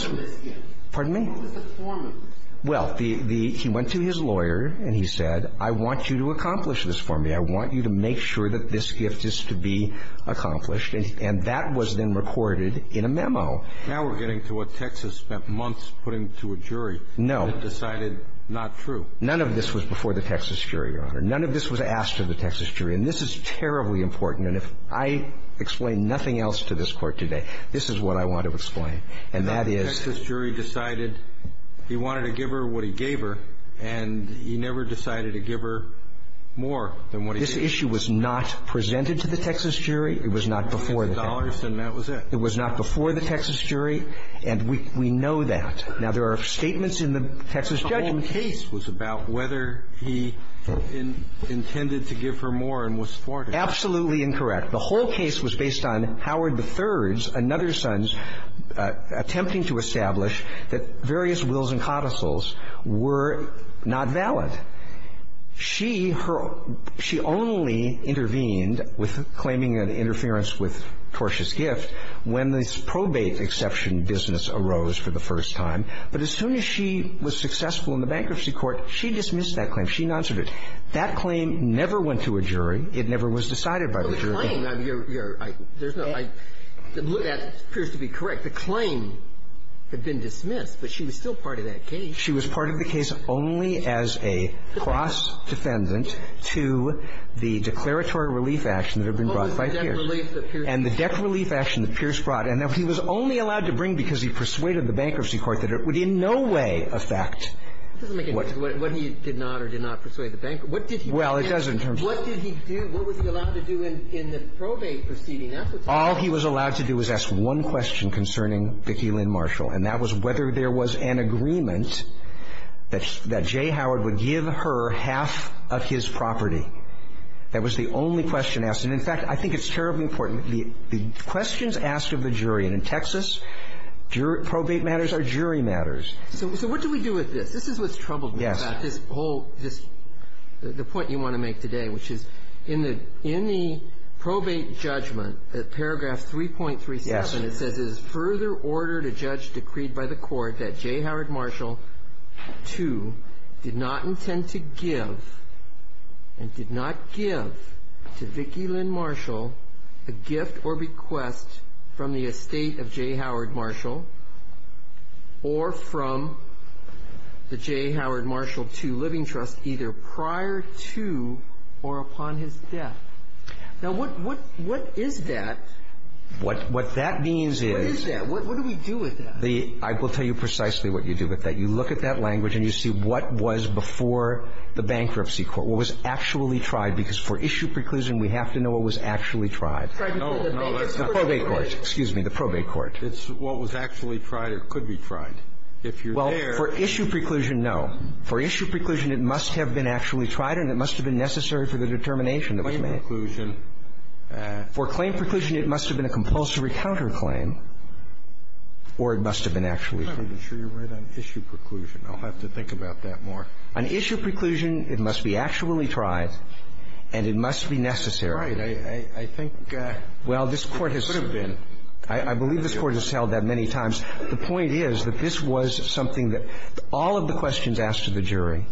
Pardon me? Well, he went to his lawyer, and he said, I want you to accomplish this for me. I want you to make sure that this gift is to be accomplished. And that was then recorded in a memo. Now we're getting to what Texas spent months putting to a jury. No. And decided not true. None of this was before the Texas jury, Your Honor. None of this was asked of the Texas jury. And this is terribly important. And if I explain nothing else to this Court today, this is what I want to explain. And that is the jury decided he wanted to give her what he gave her, and he never decided to give her more than what he gave her. This issue was not presented to the Texas jury. It was not before the Texas jury. It was not before the Texas jury, and we know that. Now, there are statements in the Texas judgment. The whole case was about whether he intended to give her more and was for it. Absolutely incorrect. The whole case was based on Howard III's, another son's, attempting to establish that various wills and codicils were not valid. She only intervened with claiming an interference with Torsh's gift when this probate exception business arose for the first time. But as soon as she was successful in the bankruptcy court, she dismissed that claim. She noncered it. That claim never went to a jury. It never was decided by the jury. But the claim, Your Honor, there's no other. That appears to be correct. The claim had been dismissed, but she was still part of that case. She was part of the case only as a cross defendant to the declaratory relief action that had been brought by Pierce. And the debt relief action that Pierce brought, and that he was only allowed to bring because he persuaded the bankruptcy court that it would in no way affect what he did not or did not persuade the bank. What did he do? Well, it doesn't. What did he do? What was he allowed to do in the probate proceeding? All he was allowed to do was ask one question concerning Vicki Lynn Marshall, and that was whether there was an agreement that J. Howard would give her half of his property. That was the only question asked. And, in fact, I think it's terribly important. The questions asked of the jury. And in Texas, probate matters are jury matters. So what do we do with this? This is what's troubled me about this whole, this, the point you want to make today, which is in the probate judgment, paragraph 3.37, it says, Further order to judge decreed by the court that J. Howard Marshall II did not intend to give and did not give to Vicki Lynn Marshall a gift or request from the estate of J. Howard Marshall or from the J. Howard Marshall II Living Trust either prior to or upon his death. Now, what is that? What that means is the – What is that? What do we do with that? I will tell you precisely what you do with that. You look at that language and you see what was before the bankruptcy court, what was actually tried. Because for issue preclusion, we have to know what was actually tried. No, no. The probate court. Excuse me. The probate court. It's what was actually tried or could be tried. If you're there – Well, for issue preclusion, no. For issue preclusion, it must have been actually tried and it must have been necessary for the determination that was made. Claim preclusion. For claim preclusion, it must have been a compulsory counterclaim or it must have been actually tried. I'm not even sure you're right on issue preclusion. I'll have to think about that more. On issue preclusion, it must be actually tried and it must be necessary. Right. I think – Well, this Court has – It could have been. I believe this Court has held that many times. The point is that this was something that all of the questions asked to the jury,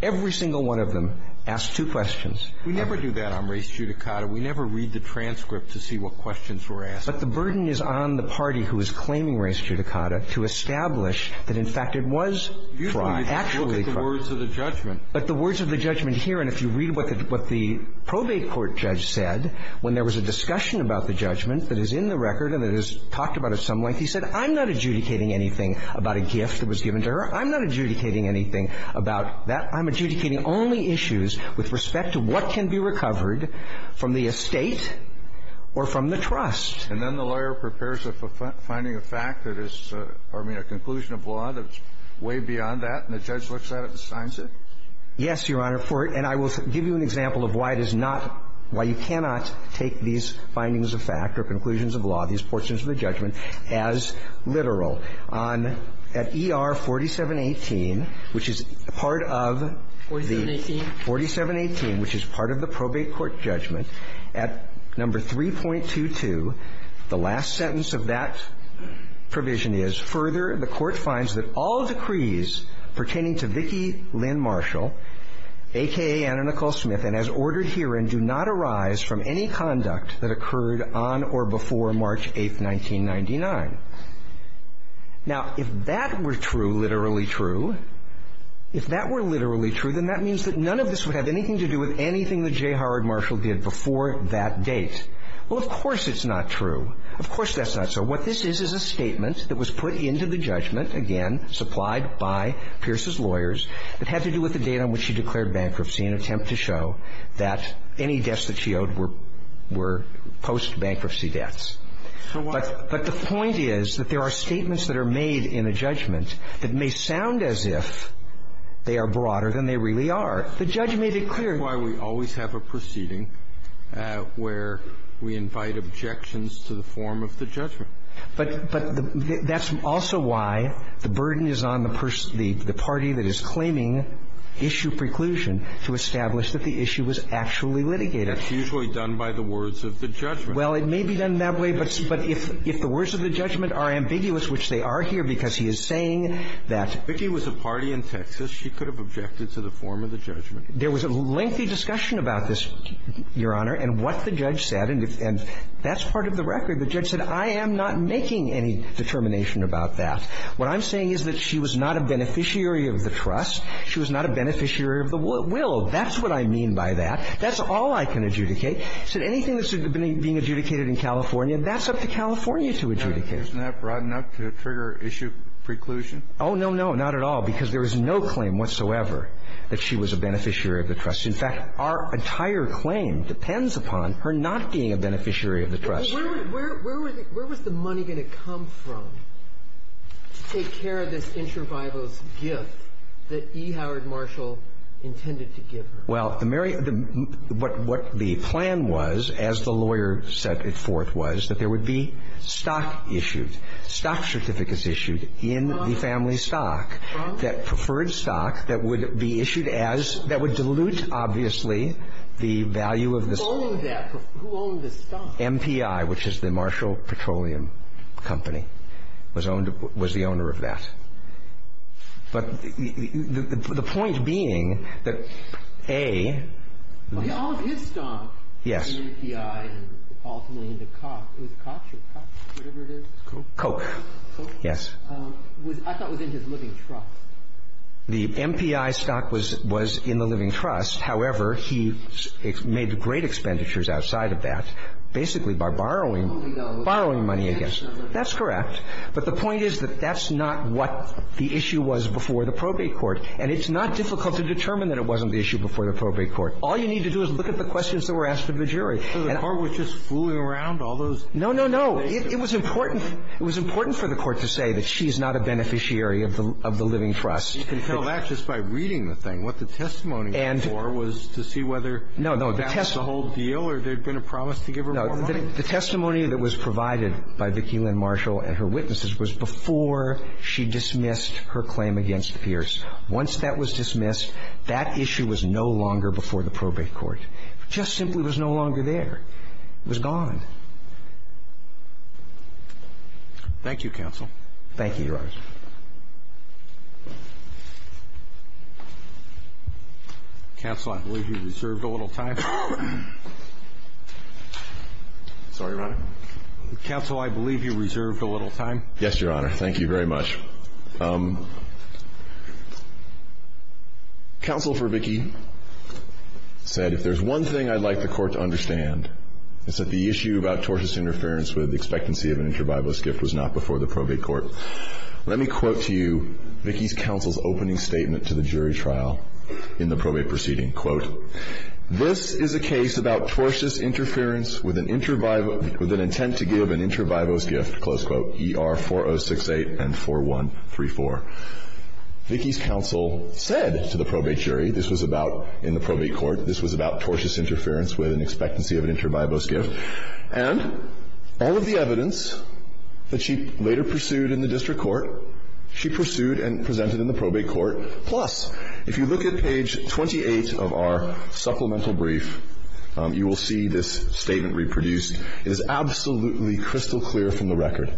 every single one of them asked two questions. We never do that on race judicata. We never read the transcript to see what questions were asked. But the burden is on the party who is claiming race judicata to establish that, in fact, it was tried, actually tried. Usually it's the words of the judgment. But the words of the judgment here, and if you read what the probate court judge said, when there was a discussion about the judgment that is in the record and that is talked about at some length, he said, I'm not adjudicating anything about a gift that was given to her. I'm not adjudicating anything about that. I'm adjudicating only issues with respect to what can be recovered from the estate or from the trust. And then the lawyer prepares a finding of fact that is – or, I mean, a conclusion of law that's way beyond that, and the judge looks at it and signs it? Yes, Your Honor. And I will give you an example of why it is not – why you cannot take these findings of fact or conclusions of law, these portions of the judgment, as literal. At ER 4718, which is part of the – 4718? 4718, which is part of the probate court judgment, at number 3.22, the last sentence of that provision is, Further, the Court finds that all decrees pertaining to Vicki Lynn Marshall, a.k.a. Anna Nicole Smith, and as ordered herein, do not arise from any conduct that occurred on or before March 8, 1999. Now, if that were true, literally true, if that were literally true, then that means that none of this would have anything to do with anything that J. Howard Marshall did before that date. Well, of course it's not true. Of course that's not so. What this is is a statement that was put into the judgment, again, supplied by Pierce's lawyers, that had to do with the date on which she declared bankruptcy in an attempt to show that any debts that she owed were post-bankruptcy debts. But the point is that there are statements that are made in a judgment that may sound as if they are broader than they really are. The judge made it clear. That's why we always have a proceeding where we invite objections to the form of the judgment. But that's also why the burden is on the party that is claiming issue preclusion to establish that the issue was actually litigated. That's usually done by the words of the judgment. Well, it may be done that way, but if the words of the judgment are ambiguous, which they are here, because he is saying that the party in Texas, she could have objected to the form of the judgment. There was a lengthy discussion about this, Your Honor, and what the judge said. And that's part of the record. The judge said, I am not making any determination about that. What I'm saying is that she was not a beneficiary of the trust. She was not a beneficiary of the will. That's what I mean by that. That's all I can adjudicate. Anything that's being adjudicated in California, that's up to California to adjudicate. Isn't that broad enough to trigger issue preclusion? Oh, no, no. Not at all. Because there is no claim whatsoever that she was a beneficiary of the trust. In fact, our entire claim depends upon her not being a beneficiary of the trust. Well, where was the money going to come from to take care of this intravivos gift that E. Howard Marshall intended to give her? Well, what the plan was, as the lawyer set it forth, was that there would be stock issued, stock certificates issued in the family stock, that preferred stock that would be issued as that would dilute, obviously, the value of the stock. Who owned that? Who owned the stock? MPI, which is the Marshall Petroleum Company, was the owner of that. But the point being that, A, the MPI stock was in the living trust. However, he made great expenditures outside of that, basically by borrowing money against it. That's correct. But the point is that that's not what the issue was before the probate court. And it's not difficult to determine that it wasn't the issue before the probate court. All you need to do is look at the questions that were asked of the jury. So the court was just fooling around, all those? No, no, no. It was important. It was important for the court to say that she's not a beneficiary of the living trust. You can tell that just by reading the thing. What the testimony was for was to see whether the whole deal or there had been a promise to give her more money. The testimony that was provided by Vicki Lynn Marshall and her witnesses was before she dismissed her claim against Pierce. Once that was dismissed, that issue was no longer before the probate court. It just simply was no longer there. It was gone. Thank you, counsel. Thank you, Your Honor. Counsel, I believe you reserved a little time. Yes, Your Honor. Thank you very much. Counsel for Vicki said, if there's one thing I'd like the court to understand, it's that the issue about tortious interference with the expectancy of an interbibalist gift was not before the probate court. Let me quote to you Vicki's counsel's opening statement to the jury trial in the probate proceeding. Quote, this is not the case. This is a case about tortious interference with an intent to give an interbibalist gift, close quote, ER 4068 and 4134. Vicki's counsel said to the probate jury this was about, in the probate court, this was about tortious interference with an expectancy of an interbibalist gift. And all of the evidence that she later pursued in the district court, she pursued and presented in the probate court. Plus, if you look at page 28 of our supplemental brief, you will see this statement reproduced. It is absolutely crystal clear from the record,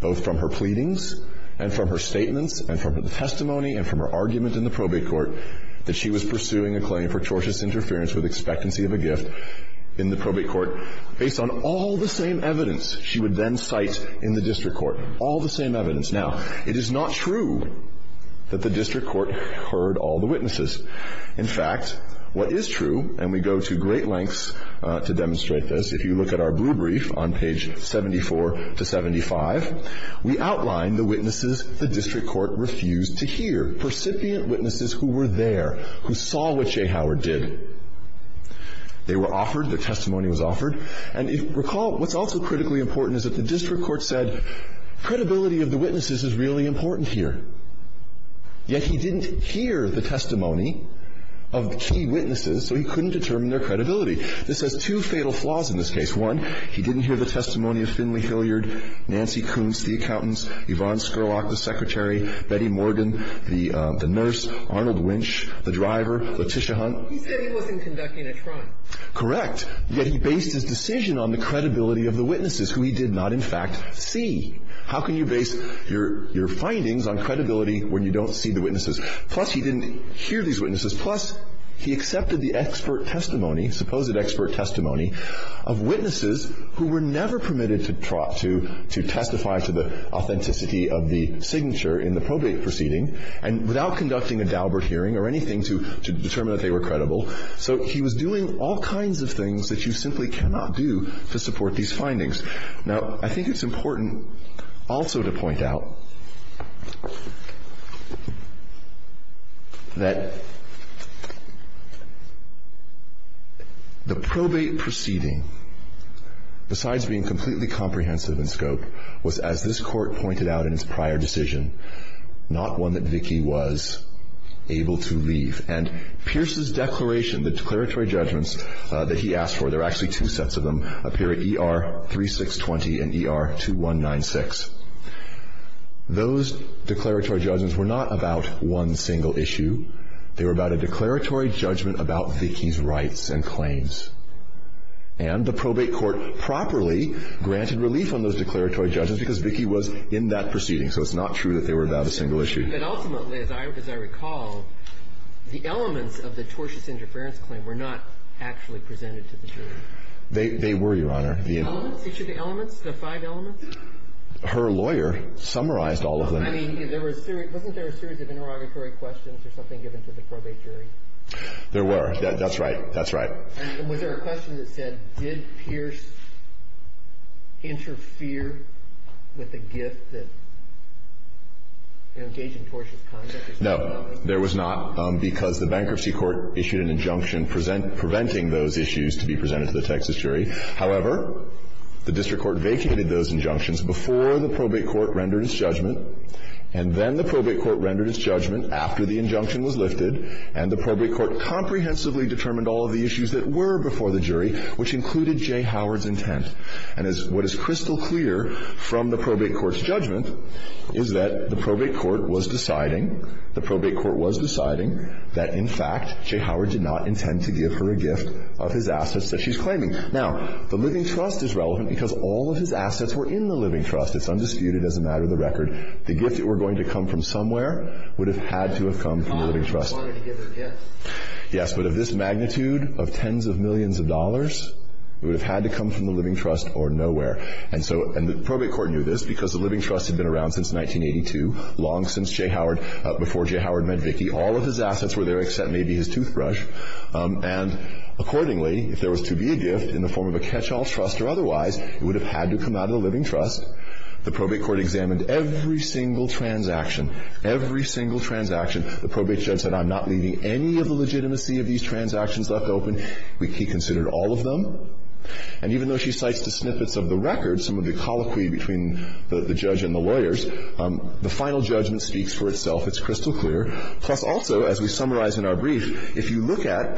both from her pleadings and from her statements and from her testimony and from her argument in the probate court, that she was pursuing a claim for tortious interference with expectancy of a gift in the probate court based on all the same evidence she would then cite in the district court, all the same evidence. Now, it is not true that the district court heard all the witnesses. In fact, what is true, and we go to great lengths to demonstrate this, if you look at our blue brief on page 74 to 75, we outline the witnesses the district court refused to hear, percipient witnesses who were there, who saw what Jay Howard did. They were offered, their testimony was offered. And if you recall, what's also critically important is that the district court said credibility of the witnesses is really important here. Yet he didn't hear the testimony of the key witnesses, so he couldn't determine their credibility. This has two fatal flaws in this case. One, he didn't hear the testimony of Finley Hilliard, Nancy Koontz, the accountants, Yvonne Scurlock, the secretary, Betty Morgan, the nurse, Arnold Winch, the driver, Letitia Hunt. He said he wasn't conducting a trial. Correct. Yet he based his decision on the credibility of the witnesses who he did not, in fact, see. How can you base your findings on credibility when you don't see the witnesses? Plus, he didn't hear these witnesses. Plus, he accepted the expert testimony, supposed expert testimony, of witnesses who were never permitted to testify to the authenticity of the signature in the probate proceeding, and without conducting a Daubert hearing or anything to determine that they were credible. So he was doing all kinds of things that you simply cannot do to support these findings. Now, I think it's important also to point out that the probate proceeding, besides being completely comprehensive in scope, was, as this Court pointed out in its prior decision, not one that Vicki was able to leave. And Pierce's declaration, the declaratory judgments that he asked for, there are actually two sets of them up here at ER 3620 and ER 2196. Those declaratory judgments were not about one single issue. They were about a declaratory judgment about Vicki's rights and claims. And the probate court properly granted relief on those declaratory judgments because Vicki was in that proceeding. So it's not true that they were about a single issue. But ultimately, as I recall, the elements of the tortious interference claim were not actually presented to the jury. They were, Your Honor. The elements? Each of the elements? The five elements? Her lawyer summarized all of them. I mean, wasn't there a series of interrogatory questions or something given to the probate jury? There were. That's right. That's right. And was there a question that said, did Pierce interfere with a gift that engaged in tortious conduct? No. There was not, because the bankruptcy court issued an injunction preventing those issues to be presented to the Texas jury. However, the district court vacated those injunctions before the probate court rendered its judgment. And the probate court comprehensively determined all of the issues that were before the jury, which included J. Howard's intent. And what is crystal clear from the probate court's judgment is that the probate court was deciding, the probate court was deciding that, in fact, J. Howard did not intend to give her a gift of his assets that she's claiming. Now, the living trust is relevant because all of his assets were in the living trust. It's undisputed as a matter of the record. The gift that were going to come from somewhere would have had to have come from the living trust. Yes. But of this magnitude of tens of millions of dollars, it would have had to come from the living trust or nowhere. And so the probate court knew this because the living trust had been around since 1982, long since J. Howard, before J. Howard met Vicki. All of his assets were there except maybe his toothbrush. And accordingly, if there was to be a gift in the form of a catch-all trust or otherwise, it would have had to come out of the living trust. The probate court examined every single transaction, every single transaction. The probate judge said, I'm not leaving any of the legitimacy of these transactions left open. He considered all of them. And even though she cites the snippets of the record, some of the colloquy between the judge and the lawyers, the final judgment speaks for itself. It's crystal clear. Plus, also, as we summarize in our brief, if you look at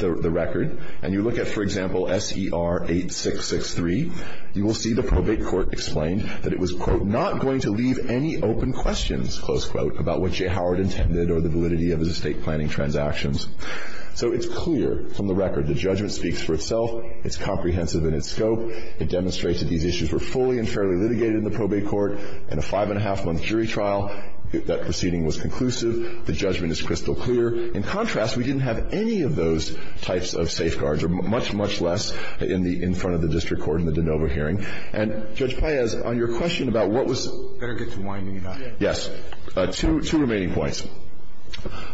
the record and you look at, for example, SER 8663, you will see the probate court explained that it was, quote, not going to leave any open questions, close quote, about what J. Howard intended or the validity of his estate planning transactions. So it's clear from the record the judgment speaks for itself. It's comprehensive in its scope. It demonstrates that these issues were fully and fairly litigated in the probate court in a five-and-a-half-month jury trial. That proceeding was conclusive. The judgment is crystal clear. In contrast, we didn't have any of those types of safeguards or much, much less in the – in front of the district court in the de novo hearing. And, Judge Paez, on your question about what was – Better get to winding it up. Yes. Two remaining points.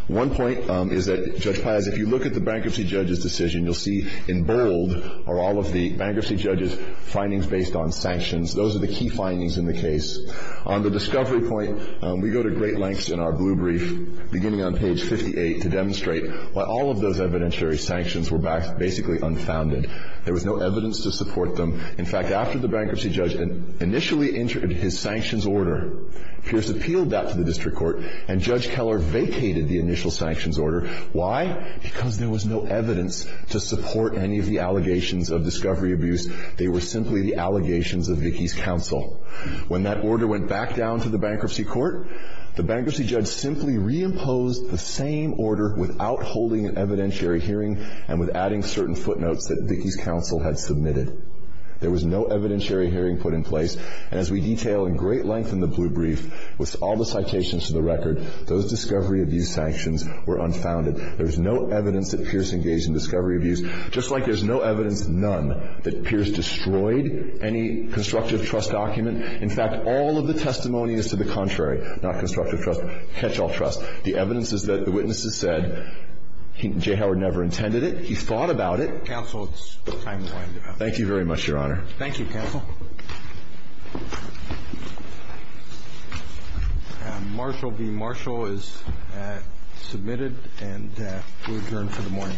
One point is that, Judge Paez, if you look at the bankruptcy judge's decision, you'll see in bold are all of the bankruptcy judge's findings based on sanctions. Those are the key findings in the case. On the discovery point, we go to great lengths in our blue brief, beginning on page 58, to demonstrate why all of those evidentiary sanctions were basically unfounded. There was no evidence to support them. In fact, after the bankruptcy judge initially entered his sanctions order, Pierce appealed that to the district court, and Judge Keller vacated the initial sanctions order. Why? Because there was no evidence to support any of the allegations of discovery abuse. They were simply the allegations of Vicki's counsel. When that order went back down to the bankruptcy court, the bankruptcy judge simply reimposed the same order without holding an evidentiary hearing and without adding certain footnotes that Vicki's counsel had submitted. There was no evidentiary hearing put in place. And as we detail in great length in the blue brief, with all the citations to the record, those discovery abuse sanctions were unfounded. There was no evidence that Pierce engaged in discovery abuse, just like there's no evidence, none, that Pierce destroyed any constructive trust document. In fact, all of the testimony is to the contrary, not constructive trust, catch-all trust. The evidence is that the witnesses said J. Howard never intended it. He thought about it. So, counsel, it's time to wind it up. Thank you very much, Your Honor. Thank you, counsel. Marshall v. Marshall is submitted, and we'll adjourn for the morning.